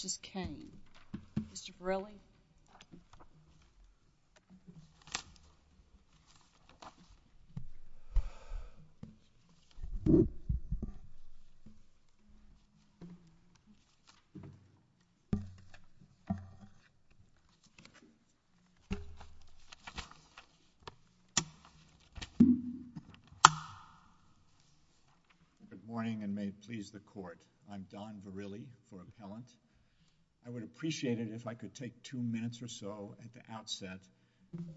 Mr. Verrilli Good morning and may it please the court, I'm appreciate it if I could take two minutes or so at the outset,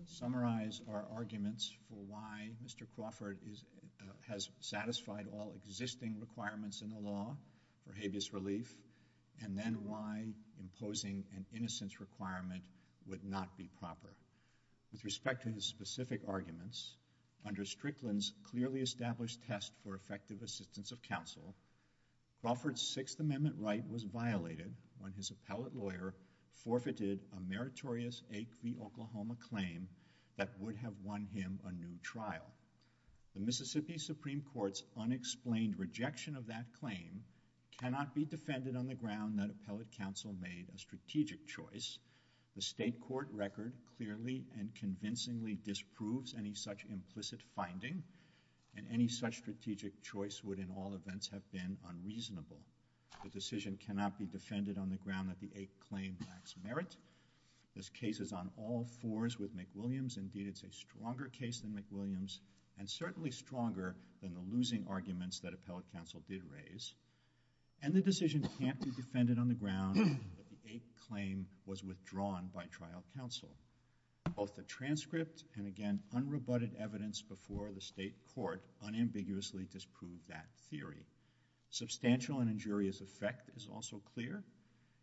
summarize our arguments for why Mr. Crawford has satisfied all existing requirements in the law for habeas relief and then why imposing an innocence requirement would not be proper. With respect to his specific arguments, under Strickland's clearly established test for effective assistance of counsel, Crawford's Sixth Amendment, his appellate lawyer forfeited a meritorious 8 v. Oklahoma claim that would have won him a new trial. The Mississippi Supreme Court's unexplained rejection of that claim cannot be defended on the ground that appellate counsel made a strategic choice. The state court record clearly and convincingly disproves any such implicit finding and any such strategic choice would in all events have been unreasonable. The decision cannot be defended on the ground that the 8th claim lacks merit. This case is on all fours with McWilliams. Indeed it's a stronger case than McWilliams and certainly stronger than the losing arguments that appellate counsel did raise. And the decision can't be defended on the ground that the 8th claim was withdrawn by trial counsel. Both the transcript and again unrebutted evidence before the state court unambiguously disprove that theory. Substantial and injurious effect is also clear.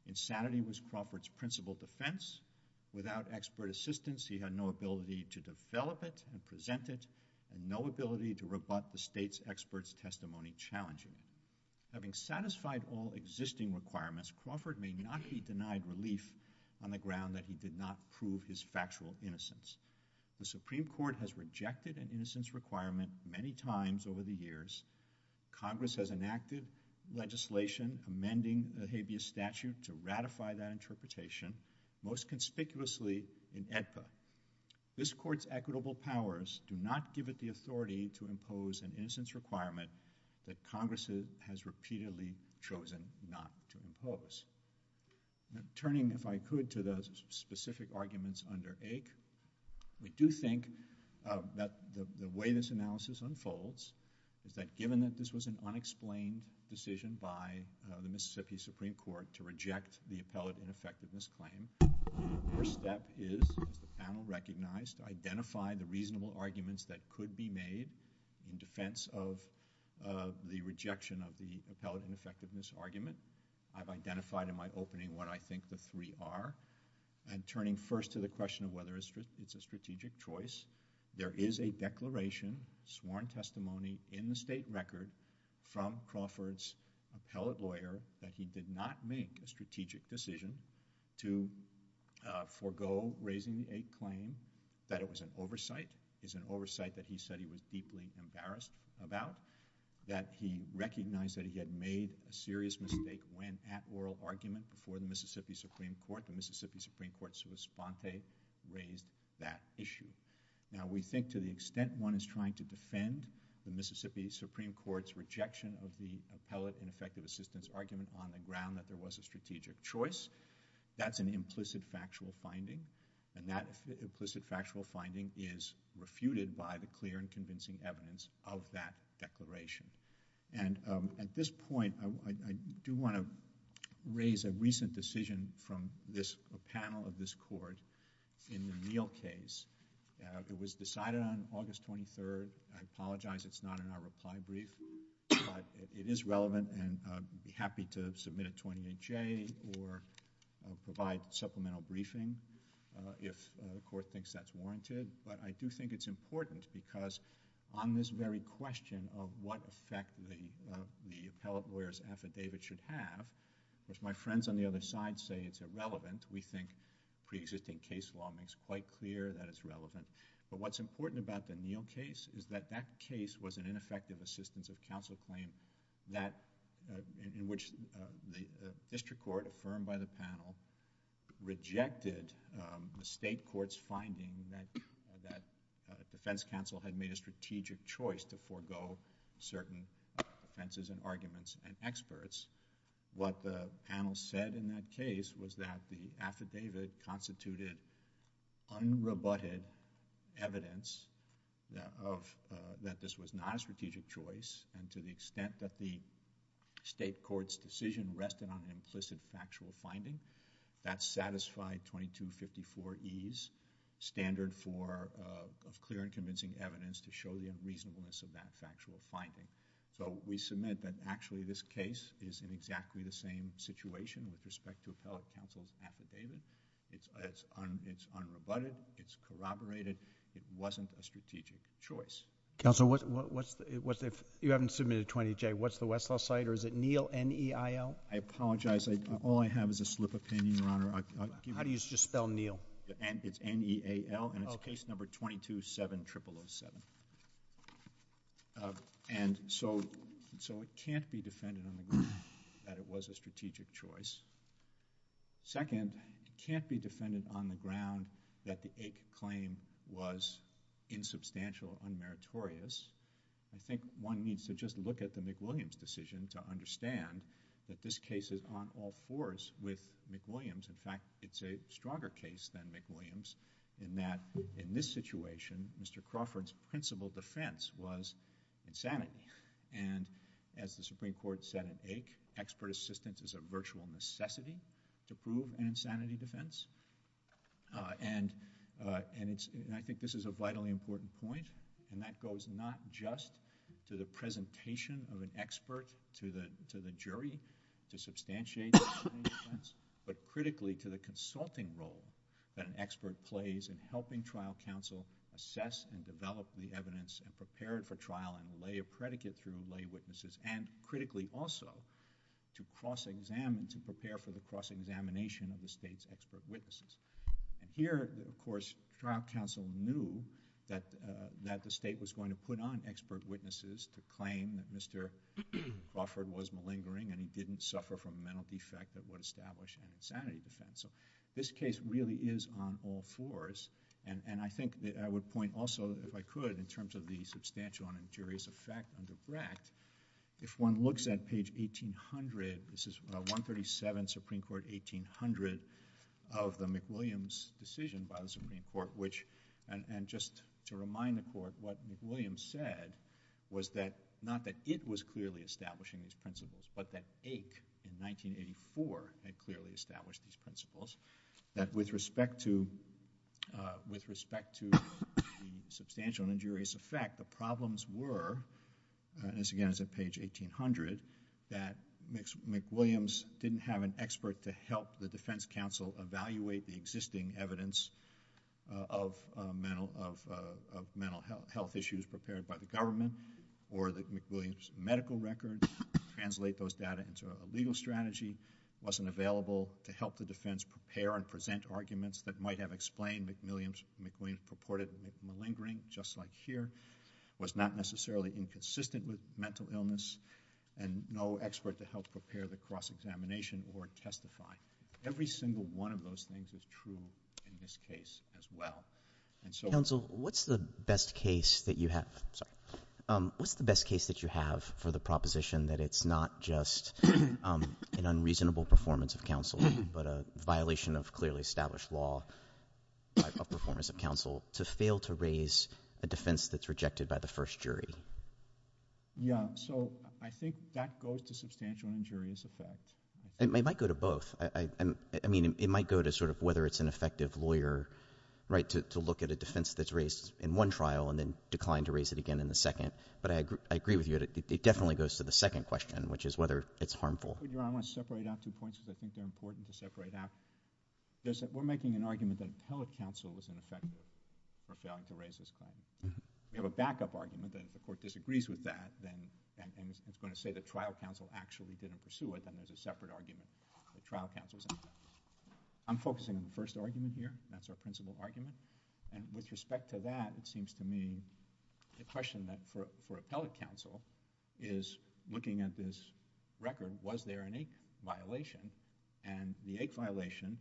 Insanity was Crawford's principal defense. Without expert assistance he had no ability to develop it and present it and no ability to rebut the state's expert's testimony challenging. Having satisfied all existing requirements, Crawford may not be denied relief on the ground that he did not prove his factual innocence. The Supreme Court has rejected an innocence requirement many times over the years. Congress has enacted legislation amending the habeas statute to ratify that interpretation, most conspicuously in AEDPA. This court's equitable powers do not give it the authority to impose an innocence requirement that Congress has repeatedly chosen not to impose. Turning if I could to the specific arguments under AIC, we do think that the way this analysis unfolds is that given that this was an unexplained decision by the Mississippi Supreme Court to reject the appellate ineffectiveness claim, the first step is, as the panel recognized, identify the reasonable arguments that could be made in defense of the rejection of the appellate ineffectiveness argument. I've identified in my opening what I think the three are. I'm turning first to the question of whether it's a strategic choice. There is a declaration, sworn testimony, in the state record from Crawford's appellate lawyer that he did not make a strategic decision to forego raising the AIC claim, that it was an oversight, is an oversight that he said he was deeply embarrassed about, that he recognized that he had made a serious mistake when at oral argument before the Mississippi Supreme Court's response they raised that issue. Now, we think to the extent one is trying to defend the Mississippi Supreme Court's rejection of the appellate ineffectiveness argument on the ground that there was a strategic choice, that's an implicit factual finding and that implicit factual finding is refuted by the clear and convincing evidence of that declaration. At this point, I do want to raise a recent decision from a panel of this Court in the Neal case. It was decided on August 23rd. I apologize it's not in our reply brief, but it is relevant and I'd be happy to submit a 28J or provide supplemental briefing if the Court thinks that's warranted, but I do think it's important because on this very question of what effect the appellate lawyer's affidavit should have, if my friends on the other side say it's irrelevant, we think pre-existing case law makes quite clear that it's relevant, but what's important about the Neal case is that that case was an ineffective assistance of counsel claim in which the district court affirmed by the panel rejected the state court's finding that the defense counsel had made a strategic choice to forego certain offenses and arguments and experts. What the panel said in that case was that the affidavit constituted unrebutted evidence that this was not a strategic choice and to the extent that the state court's decision rested on an implicit factual finding, that satisfied 2254E's standard for clear and convincing evidence to show the unreasonableness of that factual finding. So we submit that actually this case is in exactly the same situation with respect to appellate counsel's affidavit. It's unrebutted, it's corroborated, it wasn't a strategic choice. Counsel, what's the... if you haven't submitted a 28J, what's the Westlaw site or is it Neal, N-E-I-L? I apologize. All I have is a slip of pen, Your Honor. How do you just spell Neal? It's N-E-A-L and it's case number 2270007. And so it can't be defended on the ground that it was a strategic choice. Second, it can't be defended on the ground that the AIC claim was insubstantial, unmeritorious. I think one needs to just look at the McWilliams decision to understand that this case is on all fours with McWilliams. In fact, it's a stronger case than McWilliams in that in this situation, Mr. Crawford's principal defense was insanity. And as the Supreme Court said in AIC, expert assistance is a virtual necessity to prove an insanity defense. And I think this is a vitally important point and that goes not just to the presentation of an expert to the jury to substantiate the defense, but critically to the consulting role that an expert plays in helping trial counsel assess and develop the evidence and prepare it for trial and lay a predicate through lay witnesses and critically also to cross-examine, to prepare for the cross-examination of the state's expert witnesses. And here, of course, trial counsel knew that the state was going to put on expert witnesses to claim that Mr. Crawford was malingering and he didn't suffer from a mental defect that would establish an insanity defense. So this case really is on all fours. And I think I would point also, if I could, in terms of the substantial and injurious effect under Bract, if one looks at page 1800, this is 137, Supreme Court, 1800 of the McWilliams decision by the Supreme Court, which, and just to remind the Court, what McWilliams said was that, not that it was clearly establishing these principles, but that Ake, in 1984, had clearly established these principles, that with respect to the substantial and injurious effect, the problems were, and this again is at page 1800, that McWilliams didn't have an expert to help the defense counsel evaluate the existing evidence of mental health issues prepared by the government or that McWilliams' medical record translate those data into a legal strategy, wasn't available to help the defense prepare and present arguments that might have explained McWilliams' purported malingering, just like here, was not necessarily inconsistent with mental illness, and no expert to help prepare the cross-examination or testify. Every single one of those things is true in this case as well. Counsel, what's the best case that you have for the proposition that it's not just an unreasonable performance of counsel, but a violation of clearly established law of performance of counsel to fail to raise a defense that's rejected by the first jury? Yeah, so I think that goes to substantial and injurious effect. It might go to both. I mean, it might go to sort of whether it's an effective lawyer, right, to look at a defense that's raised in one trial and then decline to raise it again in the second, but I agree with you, it definitely goes to the second question, which is whether it's harmful. I want to separate out two points because I think they're important to separate out. We're making an argument that telecounsel was ineffective for failing to raise this claim. We have a backup argument that if the court disagrees with that, and it's going to say that trial counsel actually didn't pursue it, then there's a separate argument that trial counsel's ineffective. I'm focusing on the first argument here. That's our principal argument. And with respect to that, it seems to me the question for appellate counsel is, looking at this record, was there an eighth violation? And the eighth violation,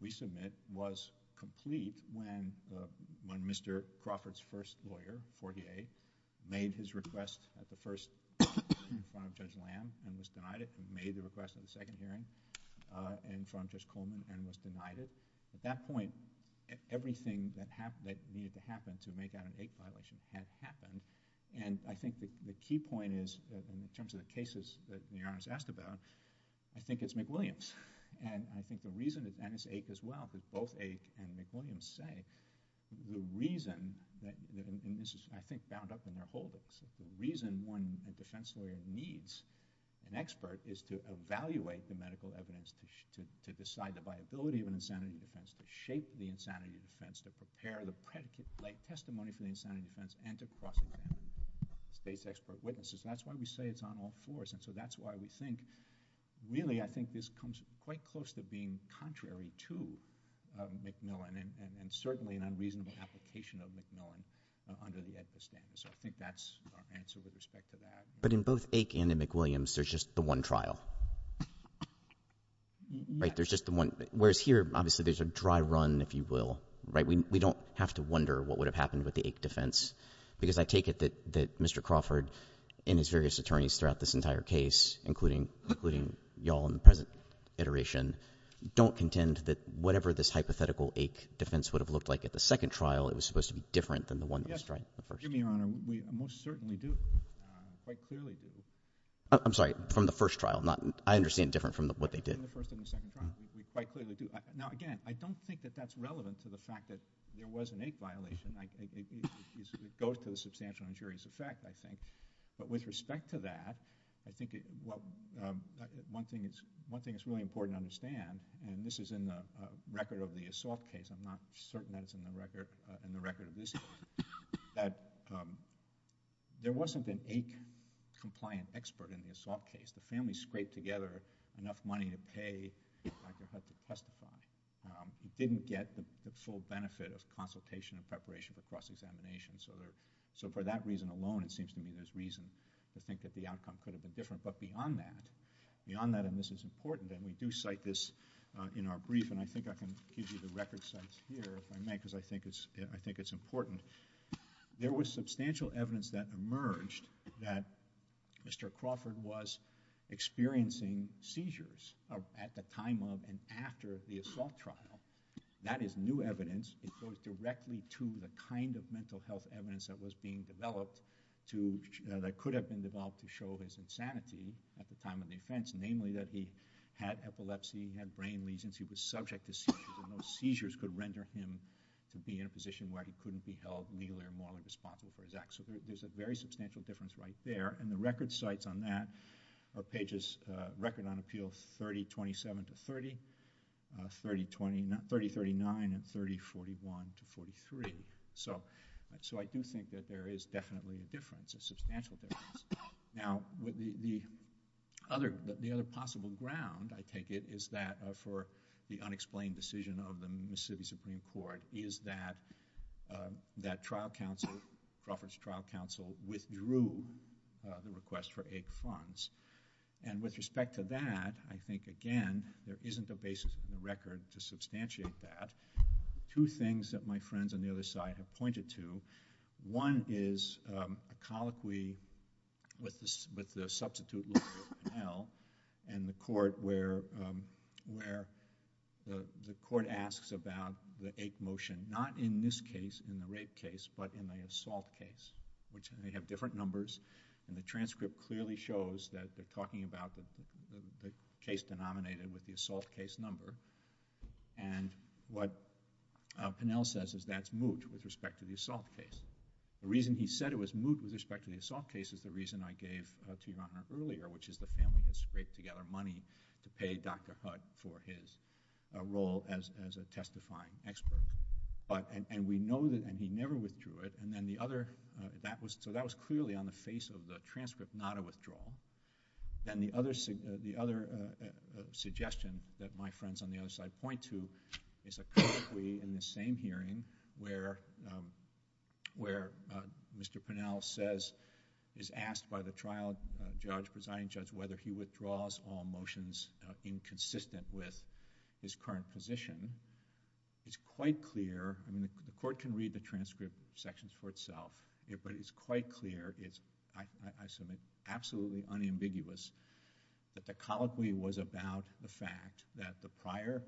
we submit, was complete when Mr. Crawford's first lawyer, Fortier, made his request at the first, in front of Judge Lamb, and was denied it. He made the request at the second hearing, in front of Judge Coleman, and was denied it. At that point, everything that needed to happen to make out an eighth violation had happened. And I think the key point is, in terms of the cases that the Your Honor's asked about, I think it's McWilliams. And I think the reason, and it's eighth as well, and McWilliams say, the reason, and this is, I think, bound up in their holdings, the reason one defense lawyer needs an expert is to evaluate the medical evidence, to decide the viability of an insanity defense, to shape the insanity defense, to prepare the predicate-like testimony for the insanity defense, and to cross-examine state's expert witnesses. That's why we say it's on all fours, and so that's why we think, really, I think this comes quite close to being contrary to McMillan, and certainly an unreasonable application of McMillan under the Edgar standard. So I think that's our answer with respect to that. But in both Ake and in McWilliams, there's just the one trial. Right? There's just the one, whereas here, obviously, there's a dry run, if you will. Right? We don't have to wonder what would have happened with the Ake defense. Because I take it that Mr. Crawford, and his various attorneys throughout this entire case, including y'all in the present iteration, don't contend that whatever this hypothetical Ake defense would have looked like at the second trial, it was supposed to be different than the one that was tried in the first trial. Yes, Your Honor. We most certainly do. Quite clearly do. I'm sorry. From the first trial. I understand different from what they did. From the first and the second trial. We quite clearly do. Now, again, I don't think that that's relevant to the fact that there was an Ake violation. It goes to the substantial injurious effect, I think. But with respect to that, I think one thing that's really important to understand, and this is in the record of the assault case, I'm not certain that it's in the record of this case, that there wasn't an Ake-compliant expert in the assault case. The family scraped together enough money to pay Dr. Hudson to testify. We didn't get the full benefit of consultation and preparation for cross-examination. So for that reason alone, it seems to me there's reason to think that the outcome could have been different. But beyond that, and this is important, and we do cite this in our brief, and I think I can give you the record cites here if I may, because I think it's important. There was substantial evidence that emerged that Mr. Crawford was experiencing seizures at the time of and after the assault trial. That is new evidence. It goes directly to the kind of mental health evidence that was being developed that could have been developed to show his insanity at the time of the offense, namely that he had epilepsy, he had brain lesions, he was subject to seizures, and those seizures could render him to be in a position where he couldn't be held legally or morally responsible for his acts. So there's a very substantial difference right there. And the record cites on that are pages, record on appeal 3027 to 30, 3039 and 3041 to 43. So I do think that there is definitely a difference, a substantial difference. Now, the other possible ground, I take it, is that for the unexplained decision of the Mississippi Supreme Court is that that trial counsel, Crawford's trial counsel, withdrew the request for AIC funds. And with respect to that, I think, again, there isn't a basis in the record to substantiate that. Two things that my friends on the other side have pointed to, one is a colloquy with the substitute lawyer, Pennell, and the court where the court asks about the AIC motion, not in this case, in the rape case, but in the assault case, which they have different numbers. And the transcript clearly shows that they're talking about the case denominated with the assault case number. And what Pennell says is that's moot with respect to the assault case. The reason he said it was moot with respect to the assault case is the reason I gave to you earlier, which is the family has scraped together money to pay Dr. Hood for his role as a testifying expert. And we know that he never withdrew it. So that was clearly on the face of the transcript, not a withdrawal. And the other suggestion that my friends on the other side point to is a colloquy in the same hearing where Mr. Pennell is asked by the trial judge, presiding judge, whether he withdraws all motions inconsistent with his current position. It's quite clear. And the court can read the transcript sections for itself. But it's quite clear. I submit absolutely unambiguous that the colloquy was about the fact that the prior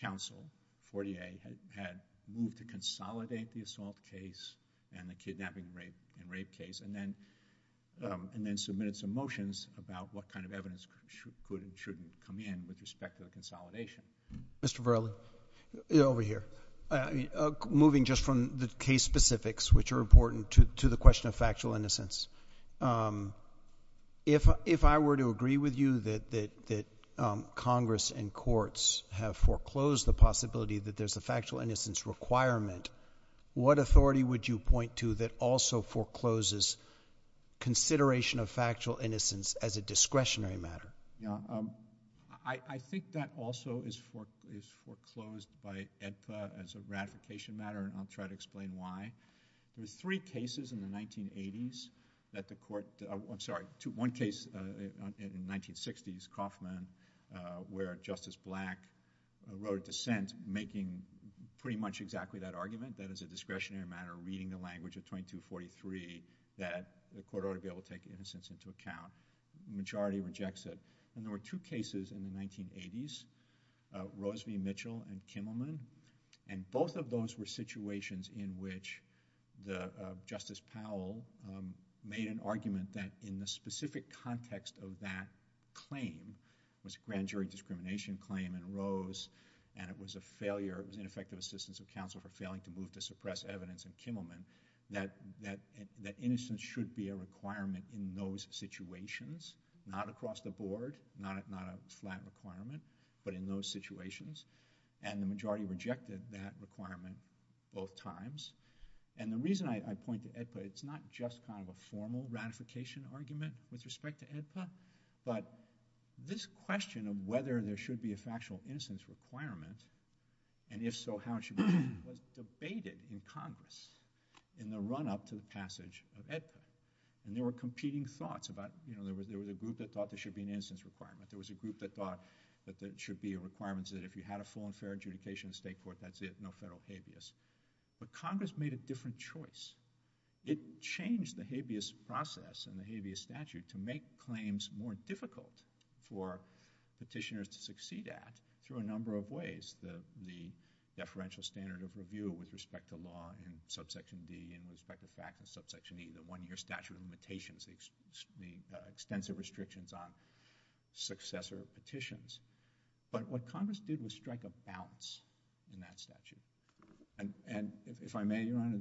counsel, Fortier, had moved to consolidate the assault case and the kidnapping and rape case and then submitted some motions about what kind of evidence should and shouldn't come in with respect to the consolidation. Mr. Verli, over here. Moving just from the case specifics, which are important, to the question of factual innocence, if I were to agree with you that Congress and courts have foreclosed the possibility that there's a factual innocence requirement, what authority would you point to that also forecloses consideration of factual innocence as a discretionary matter? I think that also is foreclosed by AEDPA as a ratification matter, and I'll try to explain why. There's three cases in the 1980s that the court... I'm sorry, one case in the 1960s, Kauffman, where Justice Black wrote a dissent making pretty much exactly that argument, that as a discretionary matter, reading the language of 2243, that the court ought to be able to take innocence into account. The majority rejects it. There were two cases in the 1980s, Rose v. Mitchell and Kimmelman, and both of those were situations in which Justice Powell made an argument that in the specific context of that claim, it was a grand jury discrimination claim in Rose, and it was a failure, it was ineffective assistance of counsel for failing to move to suppress evidence in Kimmelman, that innocence should be a requirement in those situations, not across the board, not a flat requirement, but in those situations. And the majority rejected that requirement both times. And the reason I point to AEDPA, it's not just kind of a formal ratification argument with respect to AEDPA, but this question of whether there should be a factual innocence requirement, and if so, how it should be, was debated in Congress in the run-up to the passage of AEDPA. And there were competing thoughts about, you know, there was a group that thought there should be an innocence requirement, there was a group that thought that there should be requirements that if you had a full and fair adjudication in state court, that's it, no federal habeas. But Congress made a different choice. It changed the habeas process and the habeas statute to make claims more difficult for petitioners to succeed at through a number of ways. The deferential standard of review with respect to law in subsection D and with respect to fact in subsection E, the one-year statute of limitations, the extensive restrictions on successor petitions. But what Congress did was strike a balance in that statute. And if I may, Your Honor,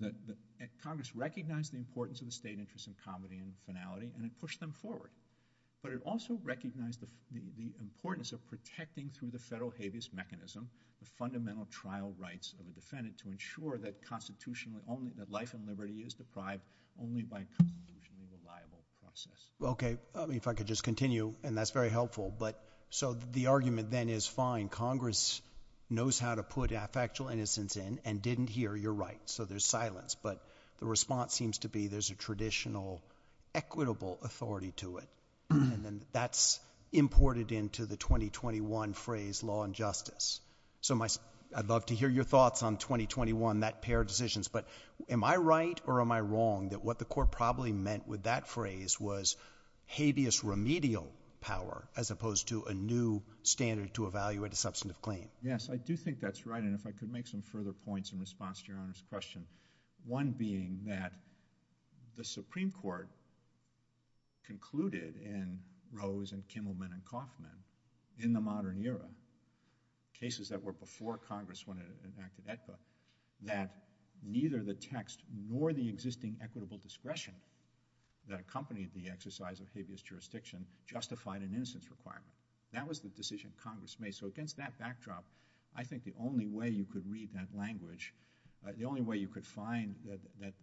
Congress recognized the importance of the state interest in comedy in the finality and it pushed them forward. But it also recognized the importance of protecting through the federal habeas mechanism the fundamental trial rights of the defendant to ensure that life and liberty is deprived only by a constitutionally reliable process. Okay. If I could just continue, and that's very helpful. So the argument then is fine, Congress knows how to put factual innocence in and didn't hear, you're right, so there's silence. But the response seems to be there's a traditional equitable authority to it. And that's imported into the 2021 phrase law and justice. So I'd love to hear your thoughts on 2021, that pair of decisions. But am I right or am I wrong that what the court probably meant with that phrase was habeas remedial power as opposed to a new standard to evaluate a substantive claim? Yes, I do think that's right. And if I could make some further points in response to Your Honor's question. One being that the Supreme Court concluded in Rose and Kimmelman and Kaufman in the modern era, cases that were before Congress when it enacted AEDPA, that neither the text nor the existing equitable discretion that accompanied the exercise of habeas jurisdiction justified an innocence requirement. That was the decision Congress made. So against that backdrop, I think the only way you could read that language, the only way you could find that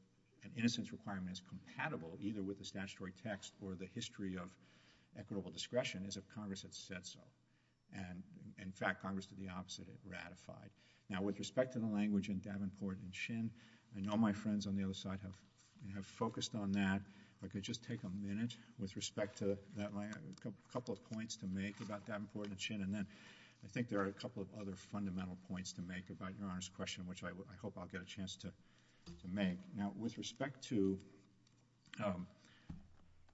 an innocence requirement is compatible either with the statutory text or the history of equitable discretion is if Congress had said so. And in fact, Congress did the opposite, it ratified. Now with respect to the language in Davenport and Chin, I know my friends on the other side have focused on that. If I could just take a minute with respect to that language, a couple of points to make about Davenport and Chin. And then I think there are a couple of other fundamental points to make about Your Honor's question, which I hope I'll get a chance to make. Now with respect to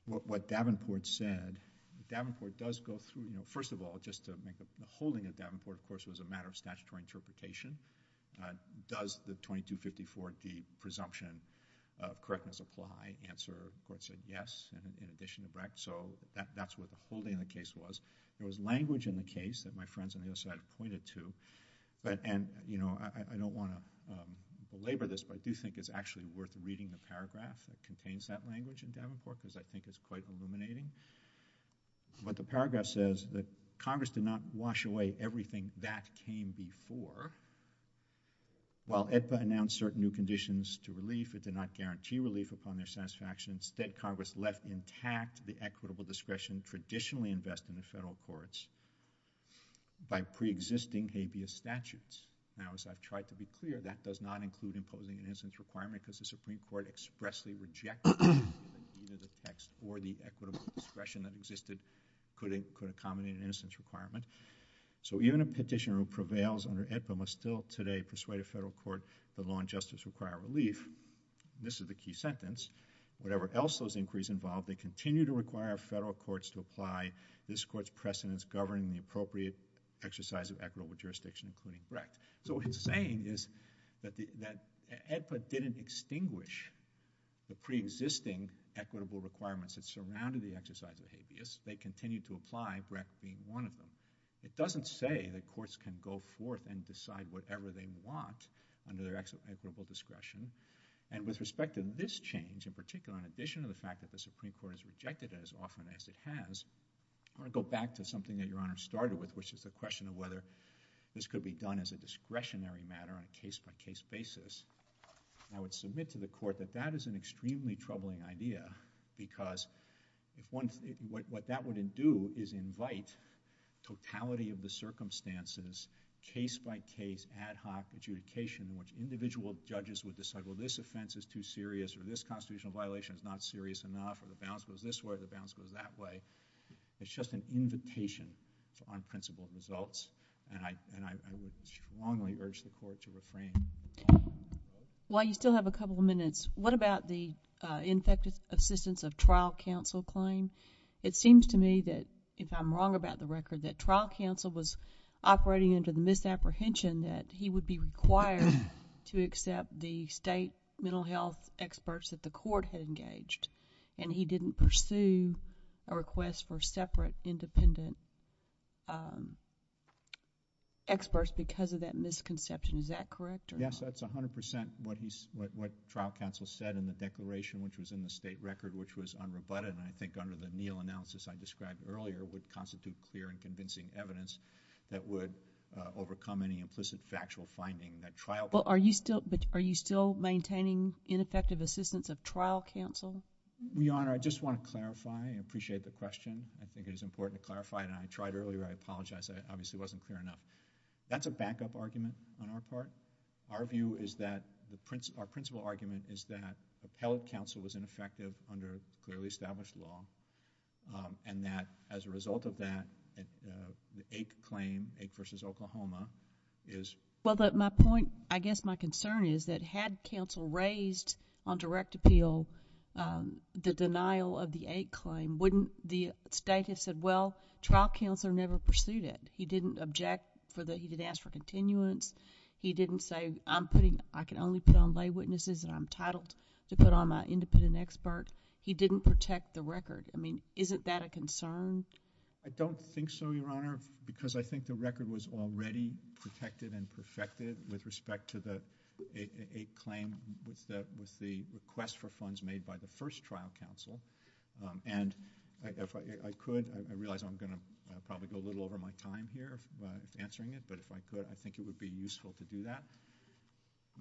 what Davenport said, Davenport does go through, you know, first of all, just to make the holding of Davenport, of course, was a matter of statutory interpretation. Does the 2254G presumption of correctness apply? The answer, of course, is yes, in addition to Brecht. So that's what the holding of the case was. There was language in the case that my friends on the other side pointed to. And, you know, I don't want to belabor this, but I do think it's actually worth reading the paragraph that contains that language in Davenport because I think it's quite illuminating. But the paragraph says that Congress did not wash away everything that came before. While AEDPA announced certain new conditions to relief, it did not guarantee relief upon their satisfaction. Instead, Congress left intact the equitable discretion traditionally invested in the federal courts by preexisting habeas statutes. Now, as I've tried to be clear, that does not include imposing an innocence requirement because the Supreme Court expressly rejected either the text or the equitable discretion that existed could accommodate an innocence requirement. So even a petitioner who prevails under AEDPA must still today persuade a federal court that law and justice require relief. This is the key sentence. Whatever else those inquiries involved, they continue to require federal courts to apply this court's precedents governing the appropriate exercise of equitable jurisdiction, including Brecht. So what he's saying is that AEDPA didn't extinguish the preexisting equitable requirements that surrounded the exercise of habeas. They continue to apply Brecht being one of them. It doesn't say that courts can go forth and decide whatever they want under their equitable discretion. And with respect to this change, in particular, in addition to the fact that the Supreme Court has rejected it as often as it has, I want to go back to something that Your Honor started with, which is the question of whether this could be done as a discretionary matter on a case-by-case basis. I would submit to the court that that is an extremely troubling idea because what that would do is invite totality of the circumstances, case-by-case, ad hoc adjudication, in which individual judges would decide, well, this offense is too serious or this constitutional violation is not serious enough or the balance goes this way or the balance goes that way. It's just an invitation to unprincipled results. And I would strongly urge the court to refrain. While you still have a couple of minutes, what about the infectious assistance of trial counsel claim? It seems to me that, if I'm wrong about the record, that trial counsel was operating under the misapprehension that he would be required to accept the state mental health experts that the court had engaged. And he didn't pursue a request for separate independent experts because of that misconception. Is that correct? Yes, that's 100 percent what trial counsel said in the declaration, which was in the state record, which was unrebutted, and I think under the Neal analysis I described earlier would constitute clear and convincing evidence that would overcome any implicit factual finding that trial counsel... Well, are you still maintaining ineffective assistance of trial counsel? Your Honor, I just want to clarify and appreciate the question. I think it is important to clarify, and I tried earlier. I apologize. I obviously wasn't clear enough. That's a backup argument on our part. Our view is that... our principal argument is that appellate counsel was ineffective under clearly established law and that, as a result of that, the AIC claim, AIC v. Oklahoma, is... Well, but my point... I guess my concern is that had counsel raised on direct appeal the denial of the AIC claim, wouldn't the state have said, well, trial counsel never pursued it? He didn't object for the... he didn't ask for continuance. He didn't say, I'm putting... I can only put on lay witnesses and I'm entitled to put on my independent expert. He didn't protect the record. I mean, isn't that a concern? I don't think so, Your Honor, because I think the record was already protected and perfected with respect to the AIC claim with the request for funds made by the first trial counsel. And if I could, I realize I'm going to probably go a little over my time here answering it, but if I could, I think it would be useful to do that.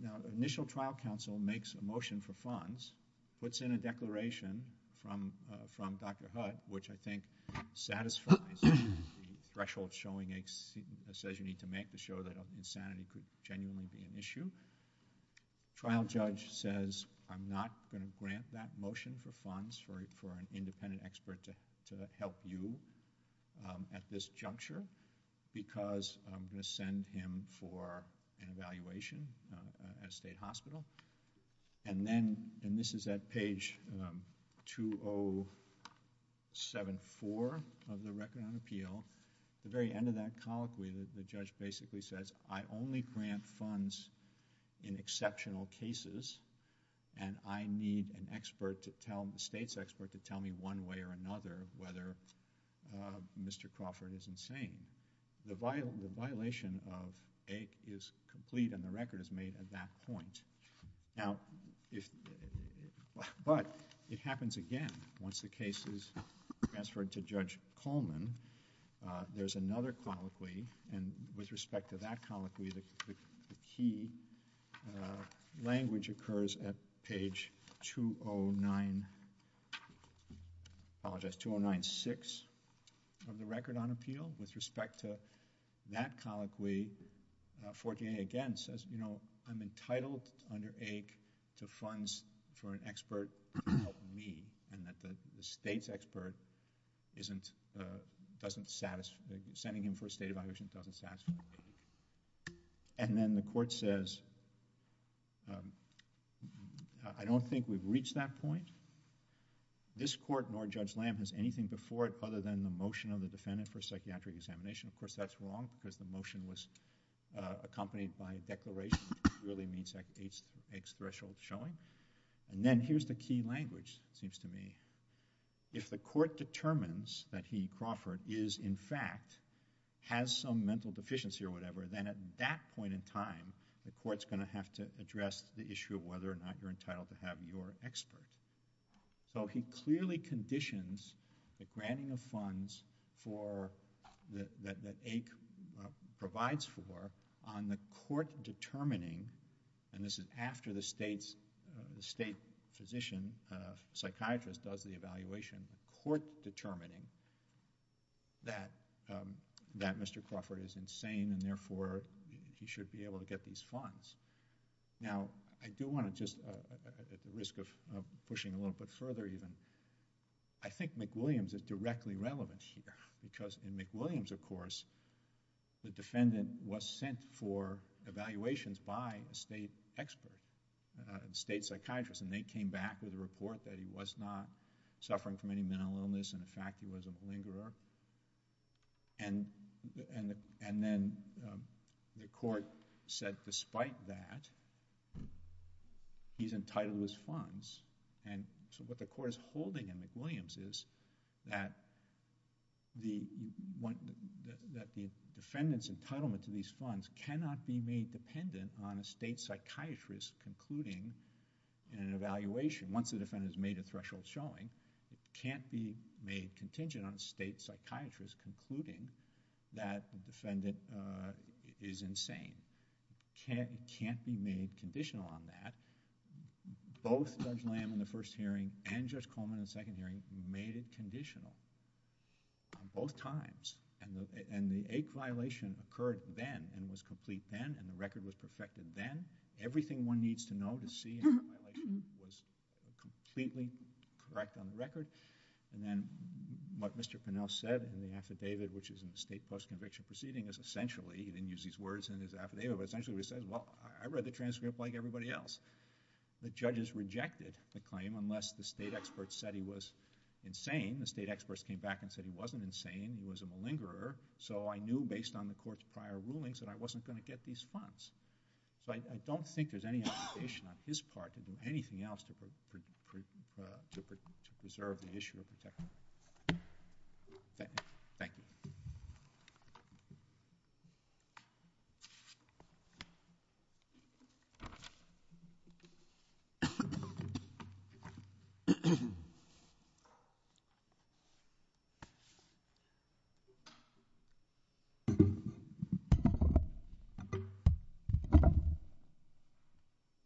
Now, initial trial counsel makes a motion for funds, puts in a declaration from Dr. Hutt, which I think satisfies the threshold showing... says you need to make to show that insanity could genuinely be an issue. Trial judge says, I'm not going to grant that motion for funds for an independent expert to help you at this juncture because I'm going to send him for an evaluation at a state hospital. And then, and this is at page 2074 of the Record on Appeal, the very end of that colloquy, the judge basically says, I only grant funds in exceptional cases and I need an expert to tell... a state's expert to tell me one way or another whether Mr. Crawford is insane. The violation of AIC is complete and the record is made at that point. Now, if... but it happens again. Once the case is transferred to Judge Coleman, there's another colloquy and with respect to that colloquy, the key language occurs at page 209... I apologize, 209.6 of the Record on Appeal. With respect to that colloquy, 14A again says, you know, I'm entitled under AIC to funds for an expert to help me and that the state's expert isn't... doesn't satisfy... sending him for a state evaluation doesn't satisfy. And then the court says, I don't think we've reached that point. This court nor Judge Lamb has anything before it other than the motion of the defendant for psychiatric examination. Of course, that's wrong because the motion was accompanied by a declaration. It really means that AIC's threshold is showing. And then here's the key language, it seems to me. If the court determines that he, Crawford, is in fact, has some mental deficiency or whatever, then at that point in time, the court's going to have to address the issue of whether or not you're entitled to have your expert. So he clearly conditions the granting of funds for... that AIC provides for on the court determining... and this is after the state's... the state physician, psychiatrist does the evaluation. The court determining that Mr. Crawford is insane and therefore, he should be able to get these funds. Now, I do want to just... at the risk of pushing a little bit further even. I think McWilliams is directly relevant here because in McWilliams, of course, the defendant was sent for evaluations by a state expert, a state psychiatrist. And they came back with a report that he was not suffering from any mental illness and in fact, he was a malingerer. And then the court said despite that, he's entitled to his funds. And so what the court is holding in McWilliams is that the defendant's entitlement to these funds cannot be made dependent on a state psychiatrist concluding an evaluation. Once the defendant has made a threshold showing, it can't be made contingent on a state psychiatrist concluding that the defendant is insane. It can't be made conditional on that. Both Judge Lamb in the first hearing and Judge Coleman in the second hearing made it conditional on both times. And the AIC violation occurred then and was complete then and the record was perfected then. Everything one needs to know to see was completely correct on the record. And then what Mr. Pinell said in the affidavit which is in the state post-conviction proceeding is essentially... he didn't use these words in his affidavit, but essentially he said, well, I read the transcript like everybody else. The judges rejected the claim unless the state experts said he was insane. The state experts came back and said he wasn't insane, he was a malingerer. So I knew based on the court's prior rulings that I wasn't going to get these funds. So I don't think there's any obligation on his part to do anything else to preserve the issue of the defendant. Thank you.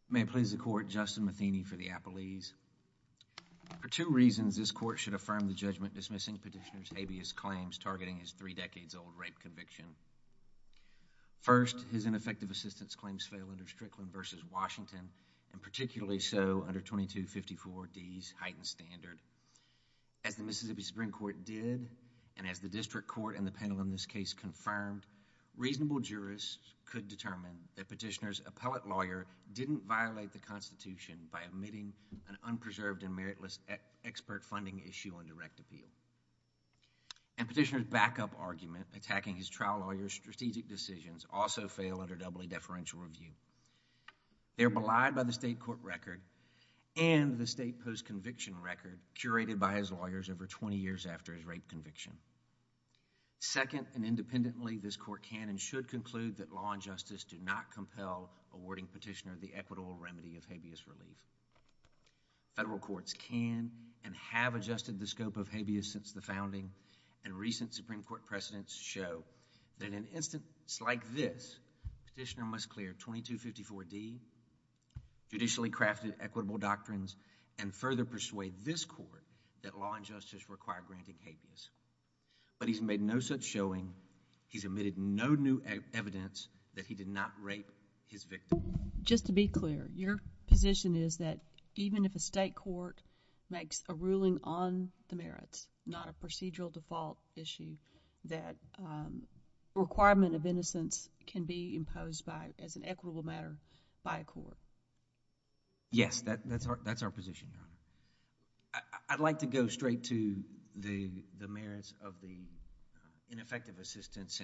May it please the court, Justin Matheny for the Appellees. For two reasons, this court should affirm the judgment dismissing Petitioner's habeas claims targeting his three decades old rape conviction. First, his ineffective assistance claims fail under Strickland v. Washington and particularly so under 2254D's heightened standard. As the Mississippi Supreme Court did and as the district court and the panel in this case confirmed, reasonable jurists could determine that Petitioner's appellate lawyer didn't violate the Constitution by omitting an unpreserved and meritless expert funding issue on direct appeal. And Petitioner's backup argument attacking his trial lawyer's strategic decisions also fail under doubly deferential review. They're belied by the state court record and the state post-conviction record curated by his lawyers over twenty years after his rape conviction. Second, and independently, this court can and should conclude that law and justice do not compel awarding Petitioner the equitable remedy of habeas relief. Federal courts can and have adjusted the scope of habeas since the founding and recent Supreme Court precedents show that in an instance like this, Petitioner must clear 2254D, judicially crafted equitable doctrines, and further persuade this court that law and justice require granting habeas. But he's made no such showing. He's omitted no new evidence that he did not rape his victim. Just to be clear, your position is that even if a state court makes a ruling on the merits, not a procedural default issue, that requirement of innocence can be imposed by, as an equitable matter, by a court? Yes, that's our position. I'd like to go straight to the merits of the ineffective assistance.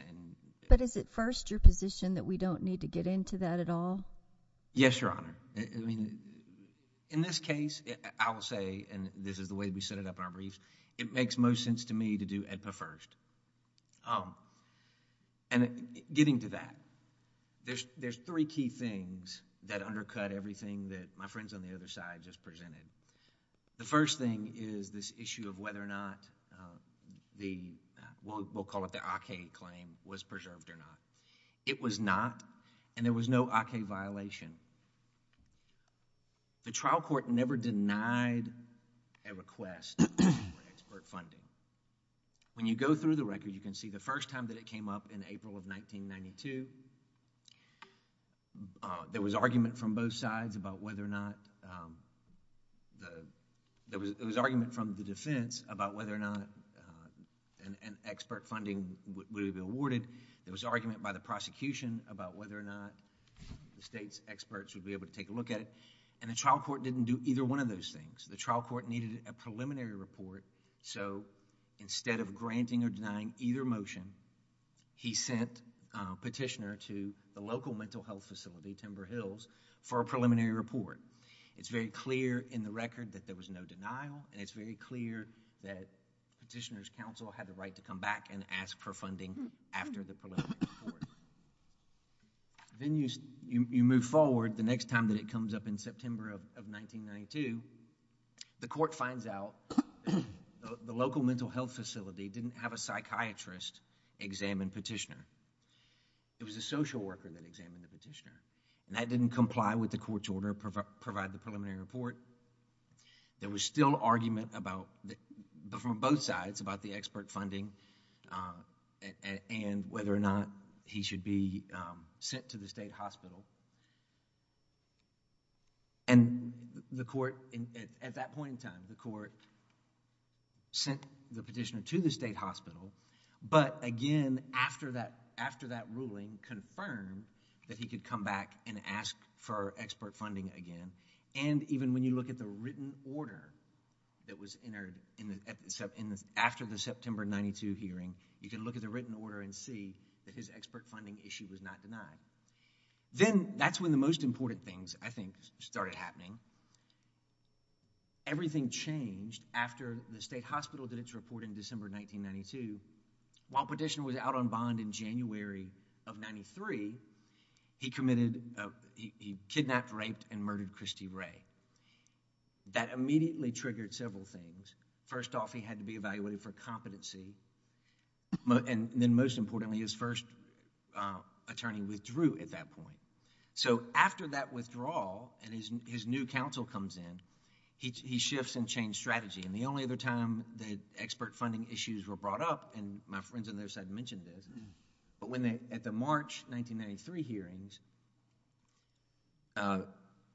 But is it first your position that we don't need to get into that at all? Yes, Your Honor. In this case, I will say, and this is the way we set it up in our briefs, it makes most sense to me to do AEDPA first. And getting to that, there's three key things that undercut everything that my friends on the other side just presented. The first thing is this issue of whether or not the, we'll call it the AK claim, was preserved or not. It was not, and there was no AK violation. The trial court never denied a request for expert funding. When you go through the record, you can see the first time that it came up in April of 1992, there was argument from both sides about whether or not... There was argument from the defense about whether or not an expert funding would be awarded. There was argument by the prosecution about whether or not the state's experts would be able to take a look at it. And the trial court didn't do either one of those things. The trial court needed a preliminary report, so instead of granting or denying either motion, he sent a petitioner to the local mental health facility, Timber Hills, for a preliminary report. It's very clear in the record that there was no denial, and it's very clear that petitioner's counsel had the right to come back and ask for funding after the preliminary report. Then you move forward, the next time that it comes up in September of 1992, the court finds out the local mental health facility didn't have a psychiatrist examine petitioner. It was a social worker that examined the petitioner, and that didn't comply with the court's order to provide the preliminary report. There was still argument from both sides about the expert funding and whether or not he should be sent to the state hospital. At that point in time, the court sent the petitioner to the state hospital, but again, after that ruling confirmed that he could come back and ask for expert funding again. And even when you look at the written order that was entered after the September 92 hearing, you can look at the written order and see that his expert funding issue was not denied. Then that's when the most important things, I think, started happening. Everything changed after the state hospital did its report in December 1992. While petitioner was out on bond in January of 93, he committed... he kidnapped, raped, and murdered Christy Ray. That immediately triggered several things. First off, he had to be evaluated for competency, and then most importantly, his first attorney withdrew at that point. After that withdrawal and his new counsel comes in, he shifts and changes strategy. The only other time that expert funding issues were brought up, and my friends on the other side mentioned this, but at the March 1993 hearings,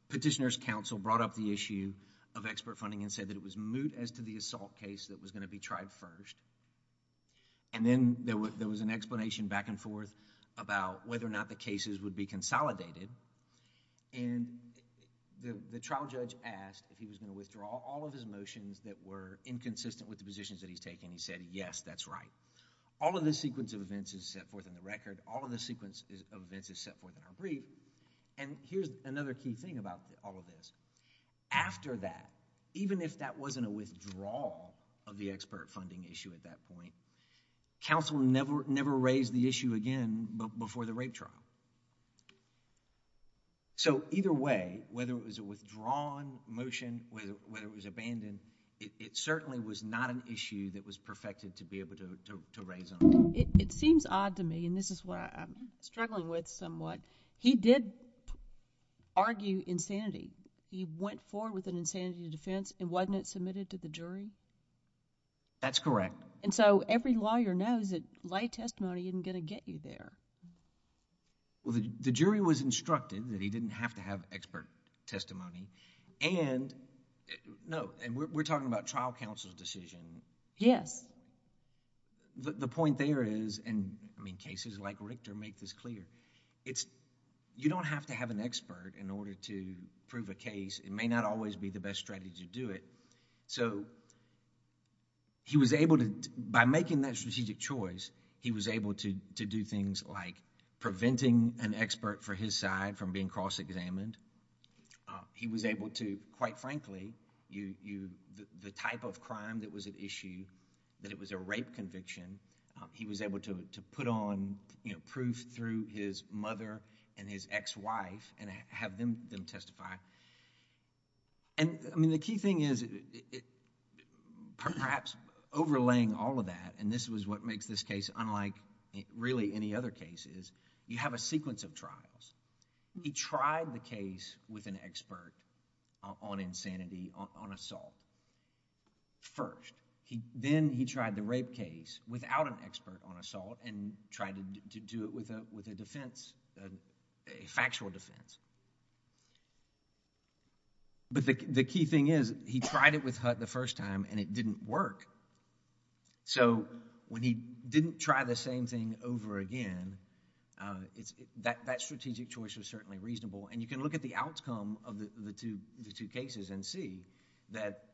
petitioner's counsel brought up the issue of expert funding and said that it was moot as to the assault case that was going to be tried first. Then there was an explanation back and forth about whether or not the cases would be consolidated. The trial judge asked if he was going to withdraw all of his motions that were inconsistent with the positions that he's taking. He said, yes, that's right. All of the sequence of events is set forth in the record. All of the sequence of events is set forth in our brief. Here's another key thing about all of this. After that, even if that wasn't a withdrawal of the expert funding issue at that point, counsel never raised the issue again before the rape trial. Either way, whether it was a withdrawn motion, whether it was abandoned, it certainly was not an issue that was perfected to be able to raise on. It seems odd to me, and this is what I'm struggling with somewhat. He did argue insanity. He went forward with an insanity defense and wasn't it submitted to the jury? That's correct. Every lawyer knows that lay testimony isn't going to get you there. The jury was instructed that he didn't have to have expert testimony. We're talking about trial counsel's decision. Yes. The point there is, and cases like Richter make this clear, you don't have to have an expert in order to prove a case. It may not always be the best strategy to do it. By making that strategic choice, he was able to do things like preventing an expert for his side from being cross-examined. He was able to, quite frankly, the type of crime that was at issue, that it was a rape conviction, he was able to put on proof through his mother and his ex-wife and have them testify. The key thing is, perhaps overlaying all of that, and this was what makes this case unlike really any other cases, you have a sequence of trials. He tried the case with an expert on insanity, on assault first. Then, he tried the rape case without an expert on assault and tried to do it with a defense, a factual defense. The key thing is, he tried it with Hutt the first time and it didn't work. When he didn't try the same thing over again, that strategic choice was certainly reasonable. You can look at the outcome of the two cases and see that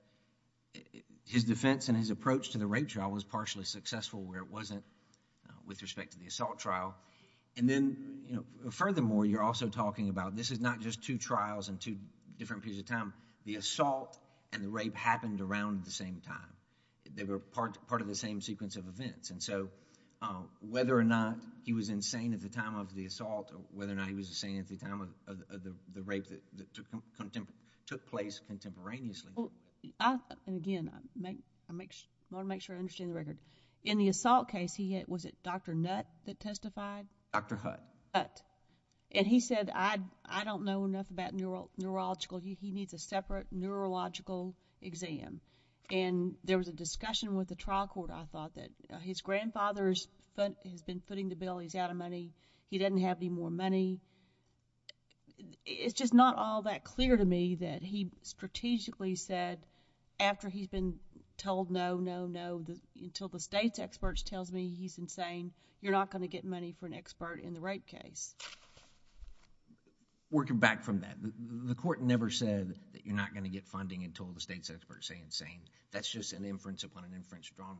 his defense and his approach to the rape trial was partially successful where it wasn't with respect to the assault trial. Then, furthermore, you're also talking about this is not just two trials and two different periods of time. The assault and the rape happened around the same time. They were part of the same sequence of events. Whether or not he was insane at the time of the assault or whether or not he was insane at the time of the rape that took place contemporaneously... Again, I want to make sure I understand the record. In the assault case, was it Dr. Nutt that testified? Dr. Hutt. Hutt. He said, I don't know enough about neurological. He needs a separate neurological exam. There was a discussion with the trial court, I thought, that his grandfather has been footing the bill. He's out of money. He doesn't have any more money. It's just not all that clear to me that he strategically said, after he's been told no, no, no, until the state's experts tells me he's insane, you're not going to get money for an expert in the rape case. Working back from that, the court never said that you're not going to get funding until the state's experts say insane. That's just an inference upon an inference drawn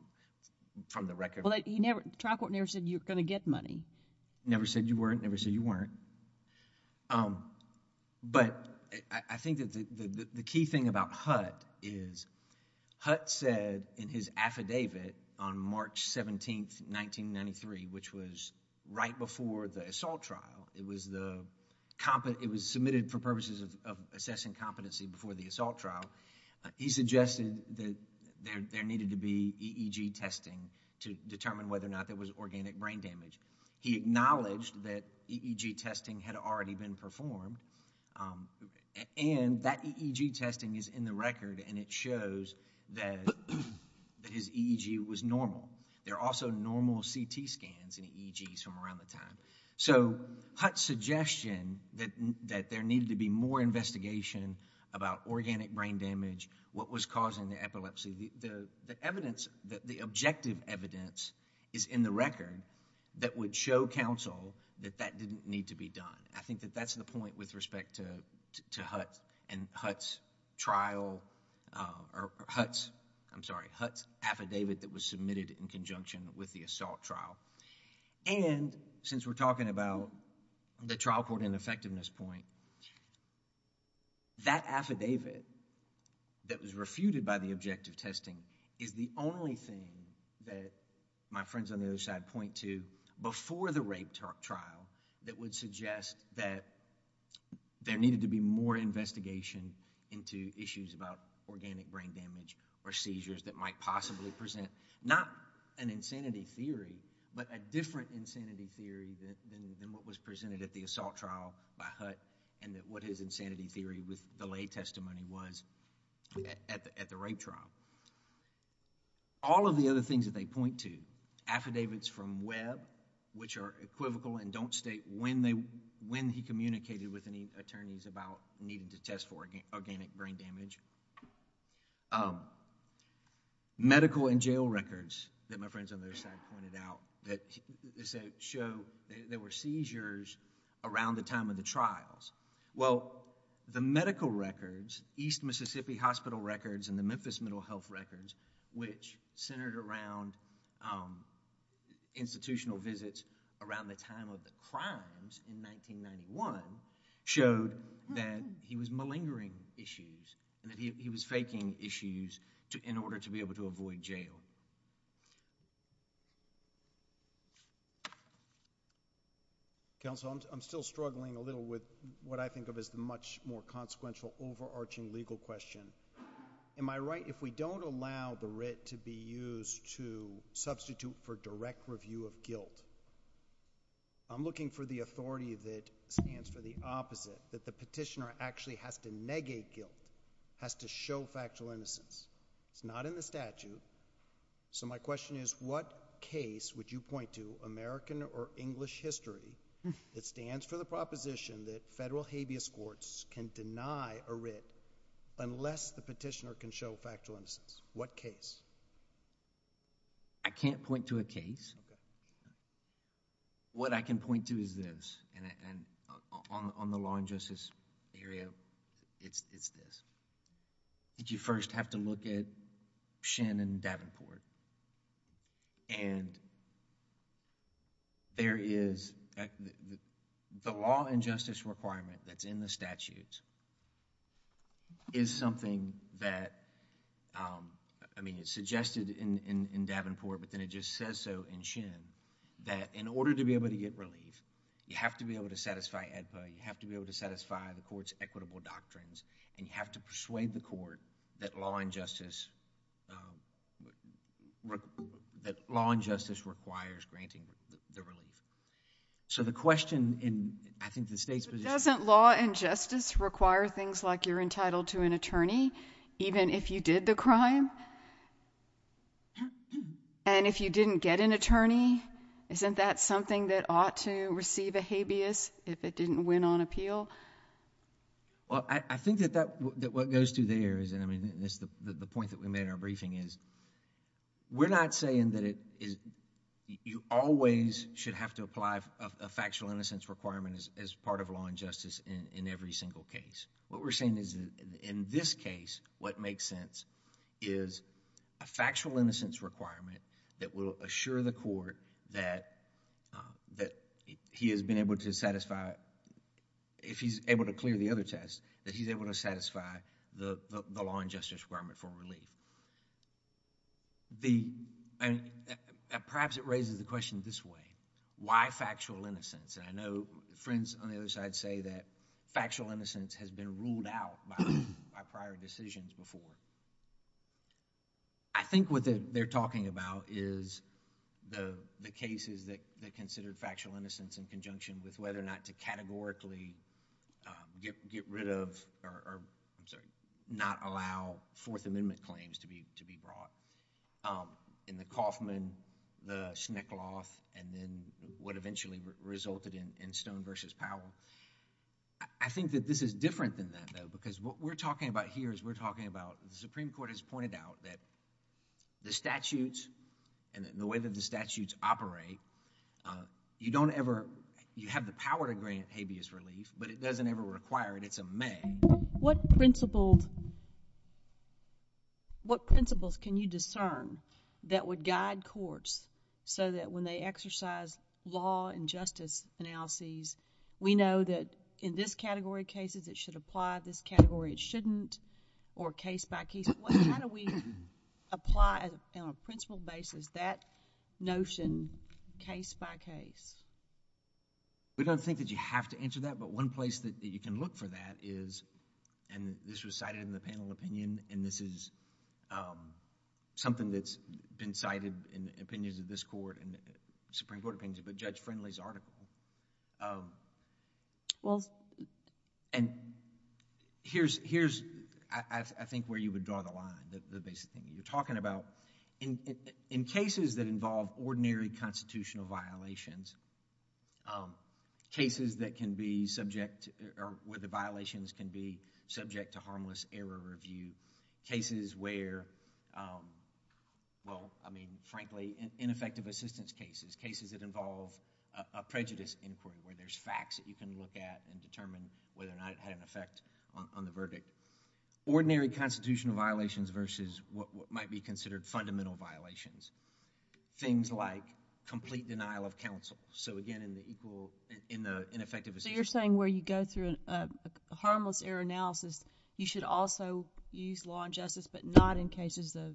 from the record. The trial court never said you're going to get money. Never said you weren't, never said you weren't. I think that the key thing about Hutt is Hutt said in his affidavit on March 17th, 1993, which was right before the assault trial. It was submitted for purposes of assessing competency before the assault trial. He suggested that there needed to be EEG testing to determine whether or not there was organic brain damage. He acknowledged that EEG testing had already been performed and that EEG testing is in the record and it shows that his EEG was normal. There are also normal CT scans and EEGs from around the time. Hutt's suggestion that there needed to be more investigation about organic brain damage, what was causing the epilepsy, the evidence, the objective evidence is in the record that would show counsel that that didn't need to be done. I think that that's the point with respect to Hutt and Hutt's trial... I'm sorry, Hutt's affidavit that was submitted in conjunction with the assault trial. Since we're talking about the trial court and effectiveness point, that affidavit that was refuted by the objective testing is the only thing that my suggestion is that there needed to be more investigation into issues about organic brain damage or seizures that might possibly present, not an insanity theory, but a different insanity theory than what was presented at the assault trial by Hutt and what his insanity theory with the lay testimony was at the rape trial. All of the other things that they point to, affidavits from Webb which are when he communicated with any attorneys about needing to test for organic brain damage. Medical and jail records that my friends on the other side pointed out that show there were seizures around the time of the trials. Well, the medical records, East Mississippi Hospital records and the Memphis Mental Health records which centered around institutional visits around the time of the crimes in 1991 showed that he was malingering issues and that he was faking issues in order to be able to avoid jail. Counsel, I'm still struggling a little with what I think of as the much more consequential overarching legal question. Am I right if we don't allow the writ to be used to substitute for direct review of guilt? I'm looking for the authority that stands for the opposite, that the petitioner actually has to negate guilt, has to show factual innocence. It's not in the statute. My question is what case would you point to, American or English history, that stands for the proposition that federal habeas courts can deny a writ unless the petitioner can show factual innocence? What case? I can't point to a case. What I can point to is this and on the law and justice area, it's this. Did you first have to look at Shannon Davenport and there is... the law and justice requirement that's in the statute is something that... I mean it's suggested in Davenport but then it just says so in Shen that in order to be able to get relief, you have to be able to satisfy AEDPA. You have to be able to satisfy the court's equitable doctrines and you have to persuade the court that law and justice requires granting the relief. The question in, I think, the state's position... Doesn't law and justice require things like you're entitled to an attorney even if you did the crime? If you didn't get an attorney, isn't that something that ought to receive a habeas if it didn't win on appeal? I think that what goes to there is the point that we made in our briefing is we're not saying that you always should have to apply a factual innocence requirement as part of law and justice in every single case. What we're saying is in this case, what makes sense is a factual innocence requirement that will assure the court that he has been able to satisfy... if he's able to clear the other test, that he's able to satisfy the law and justice requirement for relief. Perhaps it raises the question this way, why factual innocence? I know friends on the other side say that factual innocence has been ruled out by prior decisions before. I think what they're talking about is the cases that considered factual innocence in conjunction with whether or not to categorically get rid of or not allow Fourth Amendment claims to be brought in the Kauffman, the Snickloth, and then what eventually resulted in Stone v. Powell. I think that this is different than that though because what we're talking about here is we're talking about the Supreme Court has pointed out that the statutes and the way that the statutes operate, you don't ever... you have the power to grant habeas relief, but it doesn't ever require it. It's a may. What principles can you discern that would guide courts so that when they exercise law and justice analyses, we know that in this category of cases, it should apply, this category it shouldn't, or case by case? How do we apply on a principle basis that notion case by case? We don't think that you have to answer that, but one place that you can look for that is, and this was cited in the panel opinion, and this is something that's been cited in opinions of this court and Supreme Court opinions, but Judge Friendly's article. Here's, I think, where you would draw the line, the basic thing that you're talking about. In cases that involve ordinary constitutional violations, cases that can be subject or where the violations can be subject to harmless error review, cases where... frankly, ineffective assistance cases, cases that involve a violation, there's facts that you can look at and determine whether or not it had an effect on the verdict. Ordinary constitutional violations versus what might be considered fundamental violations. Things like complete denial of counsel. Again, in the ineffective assistance... You're saying where you go through a harmless error analysis, you should also use law and justice, but not in cases of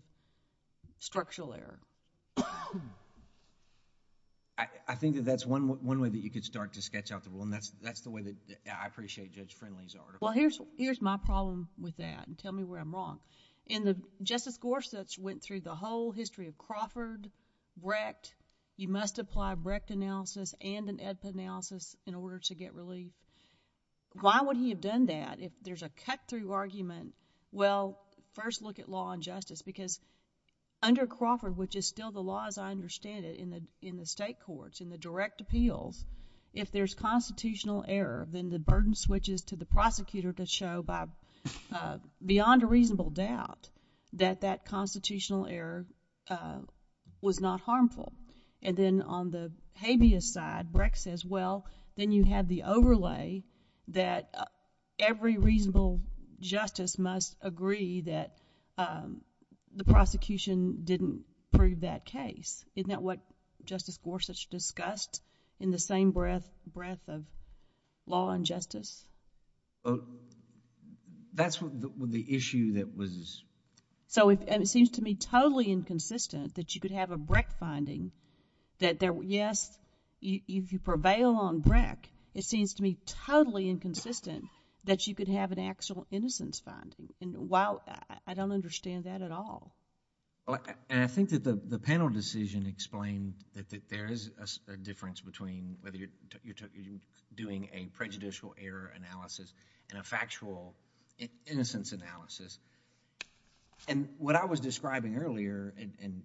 structural error? I think that that's one way that you could start to sketch out the rule, and that's the way that I appreciate Judge Friendly's article. Well, here's my problem with that, and tell me where I'm wrong. In the... Justice Gorsuch went through the whole history of Crawford, Brecht. You must apply a Brecht analysis and an Edpa analysis in order to get relief. Why would he have done that if there's a cut-through argument? Well, first look at law and justice, because under Crawford, which is still the law as I understand it in the state courts, in the direct appeals, if there's constitutional error, then the burden switches to the prosecutor to show, beyond a reasonable doubt, that that constitutional error was not harmful. Then on the habeas side, Brecht says, well, then you have the overlay that every reasonable justice must agree that the prosecution didn't prove that case. Isn't that what Justice Gorsuch discussed in the same breadth of law and justice? That's what the issue that was... It seems to me totally inconsistent that you could have a Brecht finding that there... yes, if you prevail on Brecht, it seems to me totally inconsistent that you could have an actual innocence finding. I don't understand that at all. I think that the panel decision explained that there is a difference between whether you're doing a prejudicial error analysis and a factual innocence analysis. What I was describing earlier and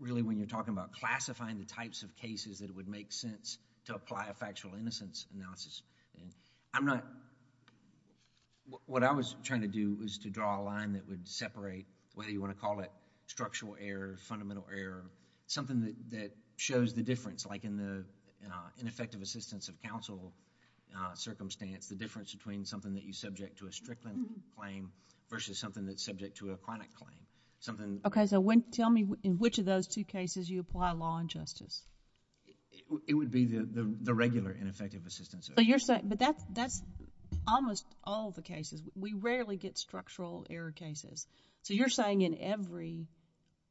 really when you're talking about classifying the types of cases that would make sense to apply a factual innocence analysis, what I was trying to do was to draw a line that would separate whether you want to call it structural error, fundamental error, something that shows the difference like in the ineffective assistance of counsel circumstance, the difference between something that you subject to a judgment versus something that's subject to a chronic claim. Something... Okay, so tell me in which of those two cases you apply law and justice? It would be the regular ineffective assistance. But you're saying... but that's almost all the cases. We rarely get structural error cases. So you're saying in every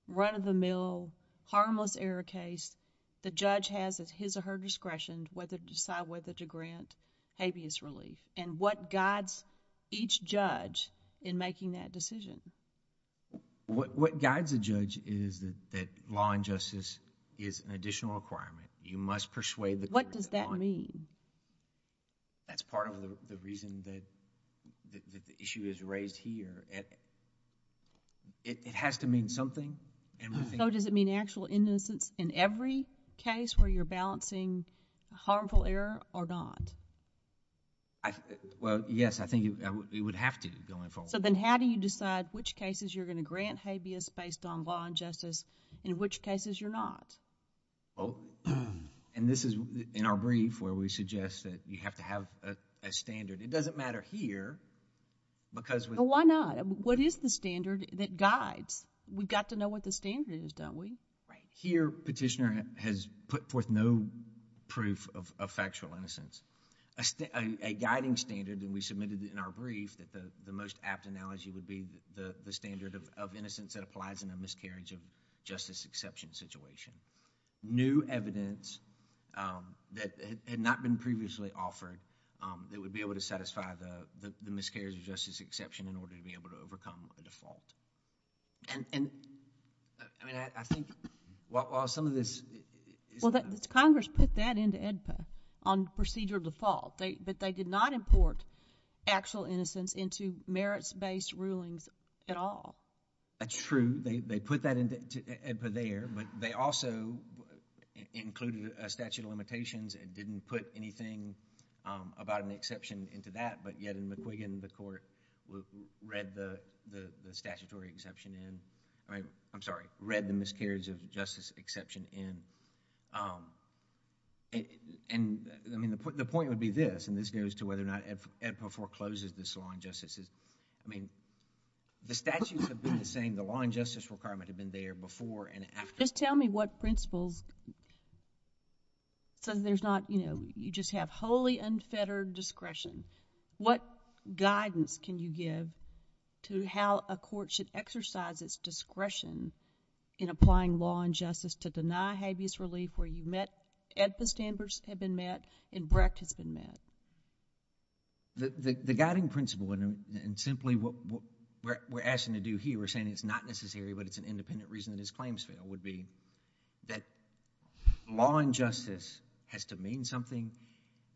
run of the mill, harmless error case, the judge has at his or her discretion whether to decide whether to grant habeas relief and what guides each judge in making that decision? What guides a judge is that law and justice is an additional requirement. You must persuade the court... What does that mean? That's part of the reason that the issue is raised here. It has to mean something and we think... So does it mean actual innocence in every case where you're balancing harmful error or not? Well, yes. I think it would have to go in both. So then how do you decide which cases you're going to grant habeas based on law and justice and which cases you're not? This is in our brief where we suggest that you have to have a standard. It doesn't matter here because... Why not? What is the standard that guides? We've got to know what the standard is, don't we? Right. If your petitioner has put forth no proof of factual innocence, a guiding standard that we submitted in our brief that the most apt analogy would be the standard of innocence that applies in a miscarriage of justice exception situation. New evidence that had not been previously offered that would be able to satisfy the miscarriage of justice exception in order to be able to overcome the default. I think while some of this... Well, Congress put that into AEDPA on procedure default, but they did not import actual innocence into merits-based rulings at all. That's true. They put that into AEDPA there, but they also included a statute of limitations and didn't put anything about an exception into that, but yet in the Quiggin, the court read the statutory exception in... I'm sorry, read the miscarriage of justice exception in. The point would be this, and this goes to whether or not AEDPA forecloses this law and justice. The statutes have been the same. The law and justice requirement have been there before and after. Just tell me what principles... You just have wholly unfettered discretion. What guidance can you give to how a court should exercise its discretion in applying law and justice to deny habeas relief where AEDPA standards have been met and Brecht has been met? The guiding principle and simply what we're asking to do here, we're saying it's not necessary but it's an independent reason that his has to mean something.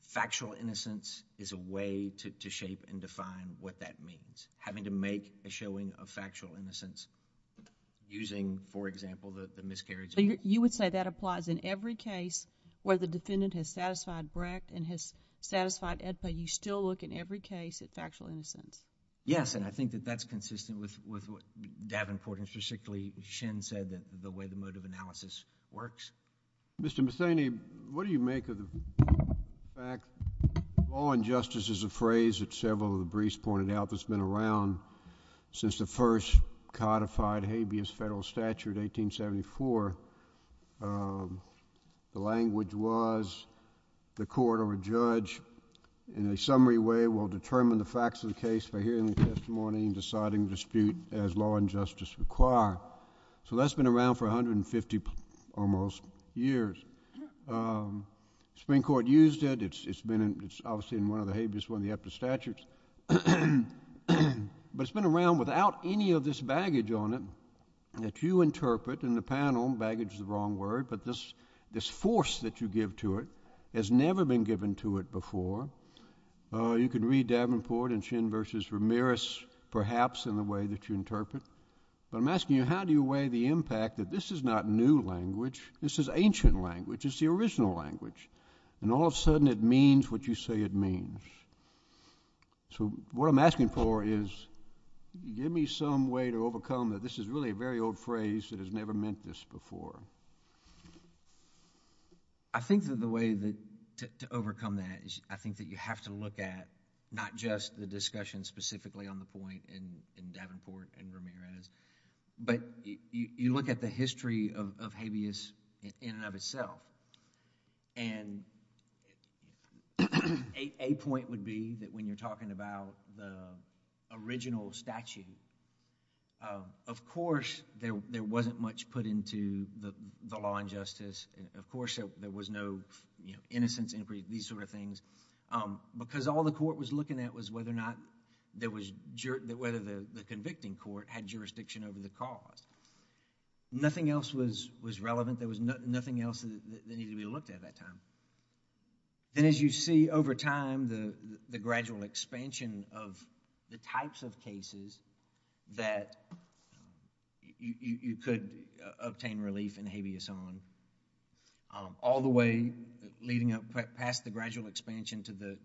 Factual innocence is a way to shape and define what that means, having to make a showing of factual innocence using, for example, the miscarriage of... You would say that applies in every case where the defendant has satisfied Brecht and has satisfied AEDPA. You still look in every case at factual innocence. Yes, and I think that that's consistent with what Davenport and specifically Shen said, the way the mode of analysis works. Mr. Metheny, what do you make of the fact... law and justice is a phrase that several of the briefs pointed out that's been around since the first codified habeas federal statute, 1874. The language was the court or a judge in a summary way will determine the facts of the case by hearing the testimony and deciding the dispute as law and justice require. So that's been around for 150 almost years. The Supreme Court used it. It's been in... It's obviously in one of the habeas, one of the after statutes. But it's been around without any of this baggage on it that you interpret in the panel. Baggage is the wrong word, but this force that you give to it has never been given to it before. You can read Davenport and Shen versus Ramirez, perhaps, in the way that you interpret. But I'm asking you how do you weigh the impact that this is not new language, this is ancient language, it's the original language, and all of a sudden it means what you say it means. So what I'm asking for is give me some way to overcome that this is really a very old phrase that has never meant this before. I think that the way to overcome that is I think that you have to look at not just the discussion specifically on the point in Davenport and Ramirez, but you look at the history of habeas in and of itself. And a point would be that when you're talking about the original statute, of course, there wasn't much put into the law and justice. Of course, there was no innocence inquiry, these sort of things. Because all the court was looking at was whether or not there was... whether the convicting court had jurisdiction over the cause. Nothing else was relevant. There was nothing else that needed to be looked at at that time. Then as you see over time, the gradual expansion of the types of cases that you could obtain relief in habeas on, all the way leading up past the gradual expansion to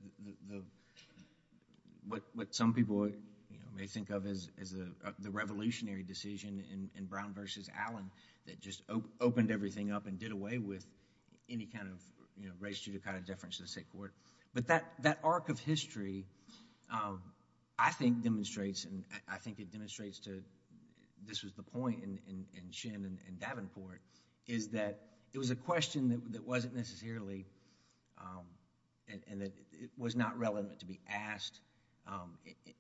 what some people may think of as the revolutionary decision in Brown v. Allen that just opened everything up and did away with any kind of registrative kind of deference to the state court. But that arc of history, I think, demonstrates and I think it demonstrates to... My point in Shen and Davenport is that it was a question that wasn't necessarily... and it was not relevant to be asked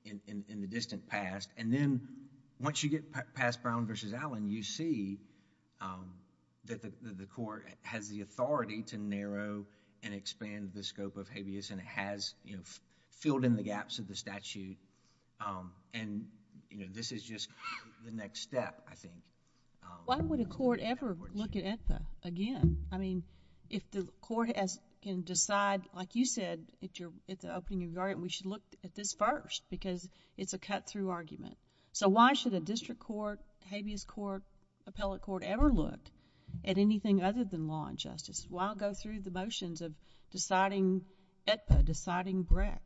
in the distant past. Then once you get past Brown v. Allen, you see that the court has the authority to narrow and expand the scope of habeas and has filled in the gaps of the statute. This is just the next step, I think. Why would a court ever look at AETPA again? I mean, if the court can decide, like you said, if you're at the opening of your argument, we should look at this first because it's a cut-through argument. Why should a district court, habeas court, appellate court ever look at anything other than law and justice? Why go through the motions of deciding AETPA, deciding Breck?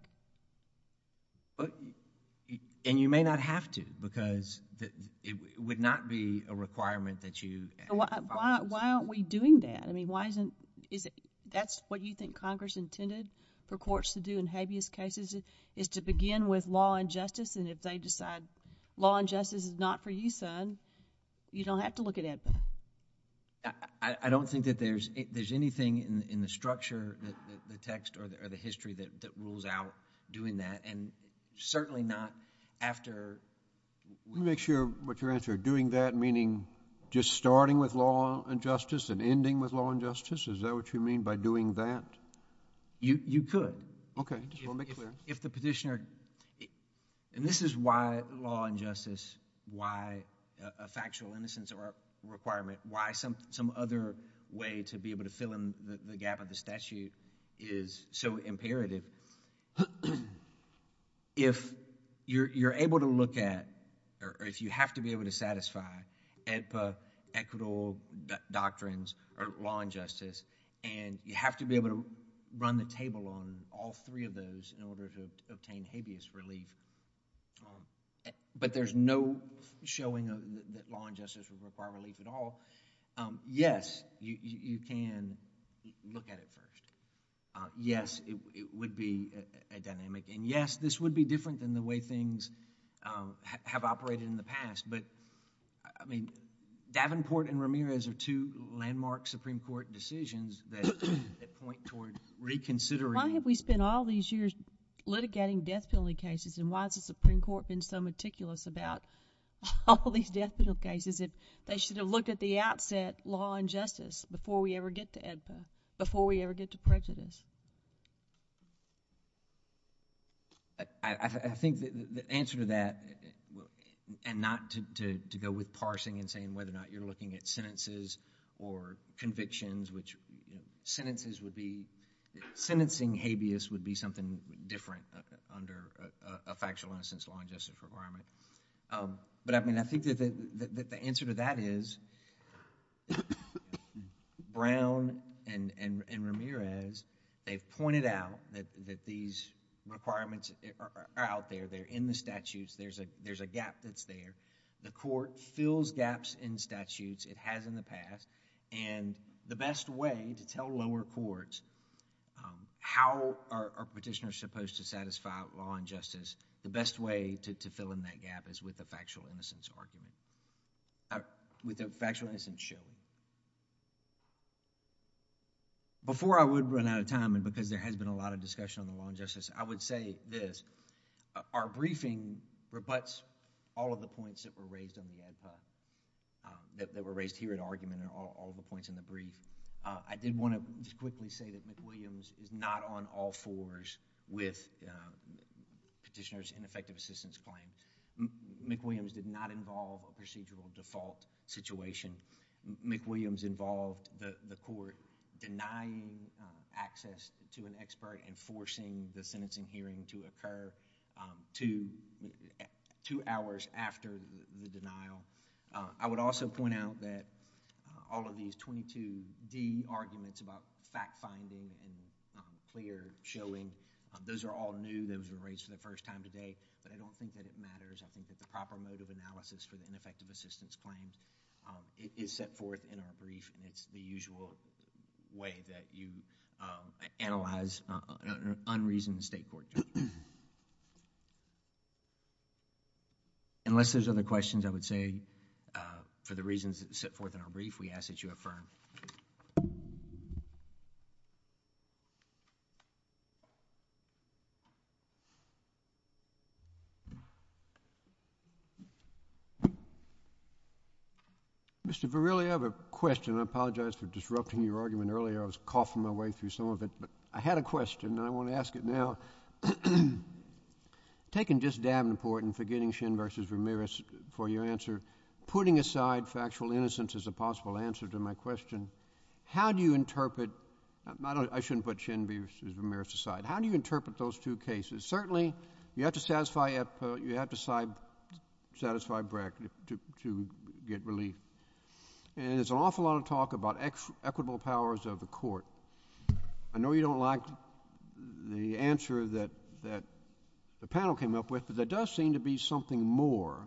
You may not have to because it would not be a requirement that you... Why aren't we doing that? That's what you think Congress intended for courts to do in habeas cases is to begin with law and justice and if they decide law and justice is not for you, son, you don't have to look at AETPA. I don't think that there's anything in the structure, the text, or the history that rules out doing that and certainly not after... Let me make sure what your answer. Doing that meaning just starting with law and justice and ending with law and justice? Is that what you mean by doing that? You could. Okay. Just want to make it clear. If the petitioner... and this is why law and justice, why a factual innocence requirement, why some other way to be able to fill in the gap of the statute is so imperative. If you're able to look at or if you have to be able to satisfy AETPA, equitable doctrines, or law and justice and you have to be able to run the table on all three of those in order to obtain habeas relief, but there's no showing that law and justice would require relief at all. Yes, you can look at it first. Yes, it would be a dynamic. Yes, this would be different than the way things have operated in the past, but Davenport and Ramirez are two landmark Supreme Court decisions that point towards reconsidering... Why have we spent all these years litigating death penalty cases and why has the Supreme Court been so meticulous about all these death penalty cases that they should have looked at the outset law and justice before we ever get to AETPA, before we ever get to prejudice? I think the answer to that and not to go with parsing and saying whether or not you're looking at sentences or convictions, which sentences would be... Sentencing habeas would be something different under a factual innocence law and justice requirement. I think that the answer to that is Brown and Ramirez, they've pointed out that these requirements are out there. They're in the statutes. There's a gap that's there. The court fills gaps in statutes. It has in the past. The best way to tell lower courts how are petitioners supposed to satisfy without law and justice, the best way to fill in that gap is with a factual innocence argument, with a factual innocence show. Before I would run out of time and because there has been a lot of discussion on the law and justice, I would say this. Our briefing rebuts all of the points that were raised on the AETPA, that were raised here at argument and all the points in the brief. I did want to quickly say that McWilliams is not on all fours with petitioners in effective assistance claim. McWilliams did not involve a procedural default situation. McWilliams involved the court denying access to an expert and forcing the sentencing hearing to occur two hours after the denial. I would also point out that all of these 22D arguments about fact-finding and clear showing, those are all new. Those were raised for the first time today. I don't think that it matters. I think that the proper mode of analysis for the ineffective assistance claim is set forth in our brief. It's the usual way that you analyze an unreasonable state court. Thank you. Unless there's other questions, I would say for the reasons that set forth in our brief, we ask that you affirm. Mr. Verrilli, I have a question. I apologize for disrupting your argument earlier. I was coughing my way through some of it. I had a question and I want to ask it now. Taken just damn important, forgetting Shin versus Ramirez for your answer, putting aside factual innocence as a possible answer to my question, how do you interpret, I shouldn't put Shin versus Ramirez aside, how do you interpret those two cases? Certainly, you have to satisfy Brecht to get relief. I know you don't like the answer that the panel came up with, but there does seem to be something more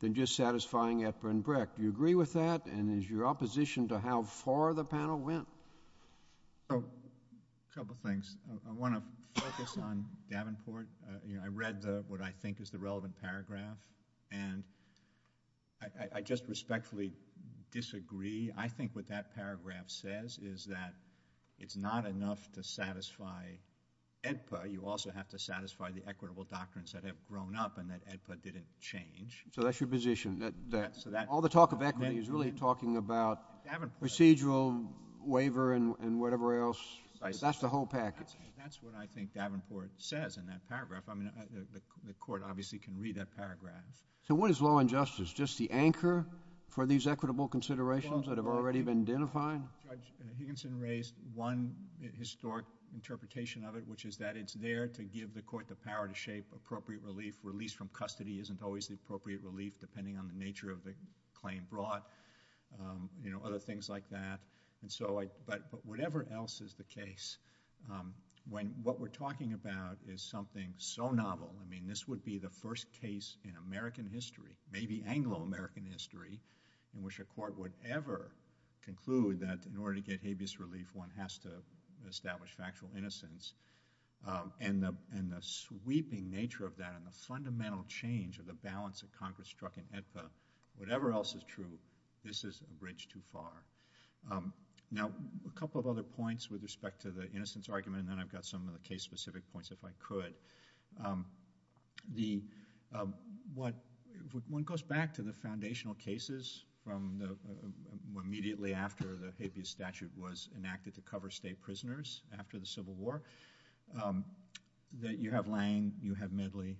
than just satisfying Epstein Brecht. Do you agree with that and is your opposition to how far the panel went? A couple of things. I want to focus on Davenport. I read what I think is the relevant paragraph and I just respectfully disagree. I think what that paragraph says is that it's not enough to satisfy AEDPA. You also have to satisfy the equitable doctrines that have grown up and that AEDPA didn't change. So that's your position, that all the talk of equity is really talking about procedural waiver and whatever else. That's the whole package. That's what I think Davenport says in that paragraph. I mean, the court obviously can read that paragraph. So what is law and justice? Is just the anchor for these equitable considerations that have already been identified? Judge Higginson raised one historic interpretation of it which is that it's there to give the court the power to shape appropriate relief. Release from custody isn't always the appropriate relief depending on the nature of the claim brought, you know, other things like that. But whatever else is the case, when what we're talking about is something so novel. I mean, this would be the first case in American history, maybe Anglo-American history, in which a court would ever conclude that in order to get habeas relief, one has to establish factual innocence. And the sweeping nature of that and the fundamental change of the balance that Congress struck in AEDPA, whatever else is true, this is a bridge too far. Now, a couple of other points with respect to the innocence argument and then I've got some of the case specific points if I could. One goes back to the foundational cases from immediately after the habeas statute was enacted to cover state prisoners after the Civil War that you have Lange, you have Medley.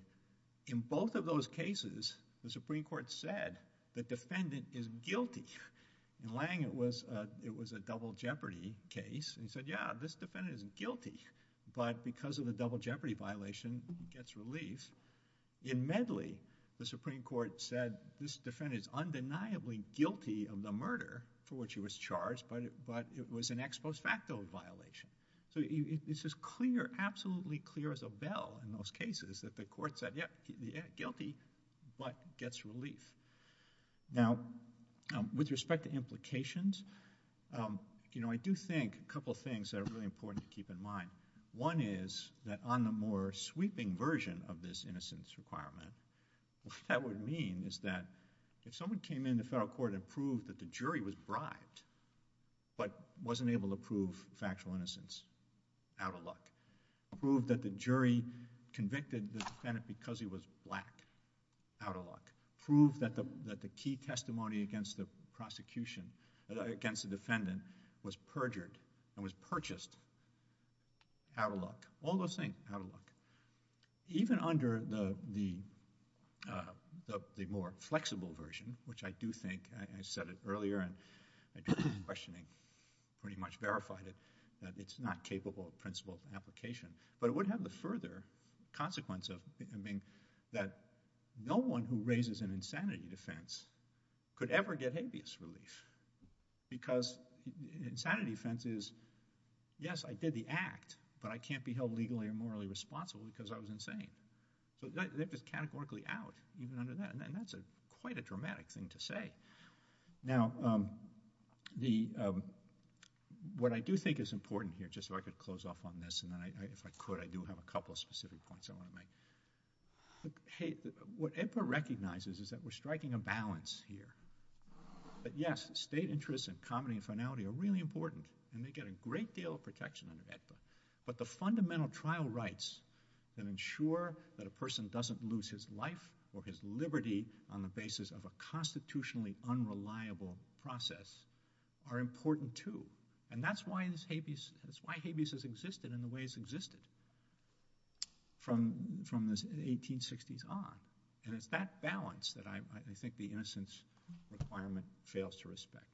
In both of those cases, the Supreme Court said the defendant is guilty. In Lange, it was a double jeopardy case. He said, yeah, this defendant is guilty, but because of the double jeopardy violation, he gets relief. In Medley, the Supreme Court said this defendant is undeniably guilty of the murder for which he was charged, but it was an ex post facto violation. So it's as clear, absolutely clear as a bell in those cases that the court said, yeah, guilty, but gets relief. Now, with respect to implications, I do think a couple of things that are really important to keep in mind. One is that on the more sweeping version of this innocence requirement, what that would mean is that if someone came into federal court and proved that the jury was bribed but wasn't able to prove factual innocence, out of luck. Proved that the jury convicted the defendant because he was black, out of luck. Proved that the key testimony against the prosecution, against the defendant, was perjured and was purchased, out of luck. All those things, out of luck. Even under the more flexible version, which I do think, I said it earlier and in questioning pretty much verified it, that it's not capable of principle application, but it would have the further consequence of being that no one who raises an insanity defense could ever get habeas relief because an insanity defense is, yes, I did the act, but I can't be held legally or morally responsible because I was insane. That was categorically out, even under that. That's quite a dramatic thing to say. Now, what I do think is important here, just so I could close off on this and then if I could, I do have a couple of specific points I want to make. What AEDPA recognizes is that we're striking a balance here. Yes, state interests and comity and finality are really important and they get a great deal of protection under AEDPA, but the fundamental trial rights that ensure that a person doesn't lose his life or his liberty on the basis of a constitutionally unreliable process are important too. That's why habeas has existed in the way it's existed from the 1860s on. It's that balance that I think the innocence requirement fails to respect.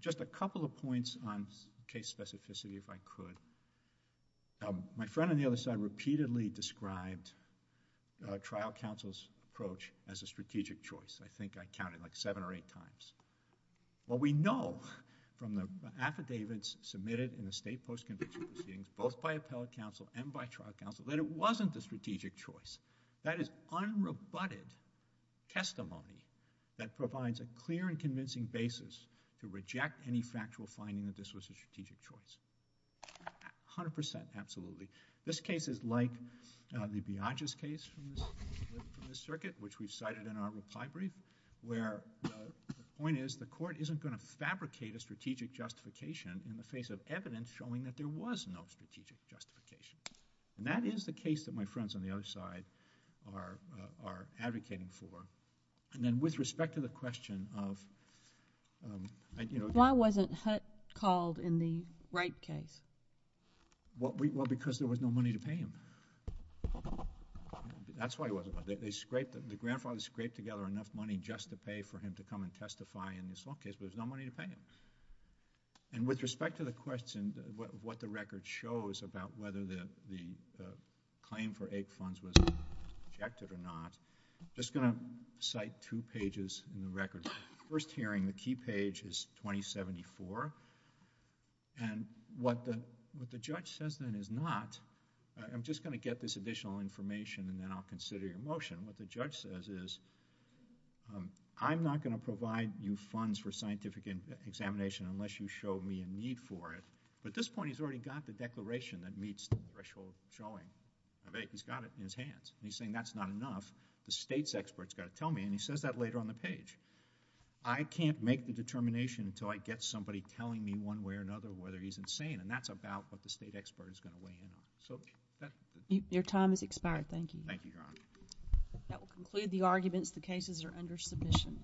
Just a couple of points on case specificity, if I could. My friend on the other side repeatedly described trial counsel's approach as a strategic choice. I think I counted like seven or eight times. What we know from the affidavits submitted in the state post-conviction proceedings, both by appellate counsel and by trial counsel, that it wasn't the strategic choice. That is unrebutted testimony that provides a clear and convincing basis to reject any factual finding that this was a strategic choice. A hundred percent, absolutely. This case is like the Biagis case from the circuit, which we've cited in our final pie brief, where the point is the court isn't going to fabricate a strategic justification in the face of evidence showing that there was no strategic justification. That is the case that my friends on the other side are advocating for. Then with respect to the question of... Why wasn't Hutt called in the Wright case? Because there was no money to pay him. That's why he wasn't called. The grandfather scraped together enough money just to pay for him to come and testify in this law case, but there was no money to pay him. With respect to the question of what the record shows about whether the claim for AIC funds was rejected or not, I'm just going to cite two pages in the record. First hearing, the key page is 2074. What the judge says then is not... I'm just going to get this additional information and then I'll consider your motion. What the judge says is, I'm not going to provide you funds for scientific examination unless you show me a need for it. At this point, he's already got the declaration that meets the threshold showing of AIC. He's got it in his hands. He's saying that's not enough. The state's expert's got to tell me, and he says that later on the page. I can't make the determination until I get somebody telling me one way or another whether he's insane, and that's about what the state expert is going Your time has expired. Thank you. Thank you, Your Honor. That will conclude the arguments. The cases are under submission.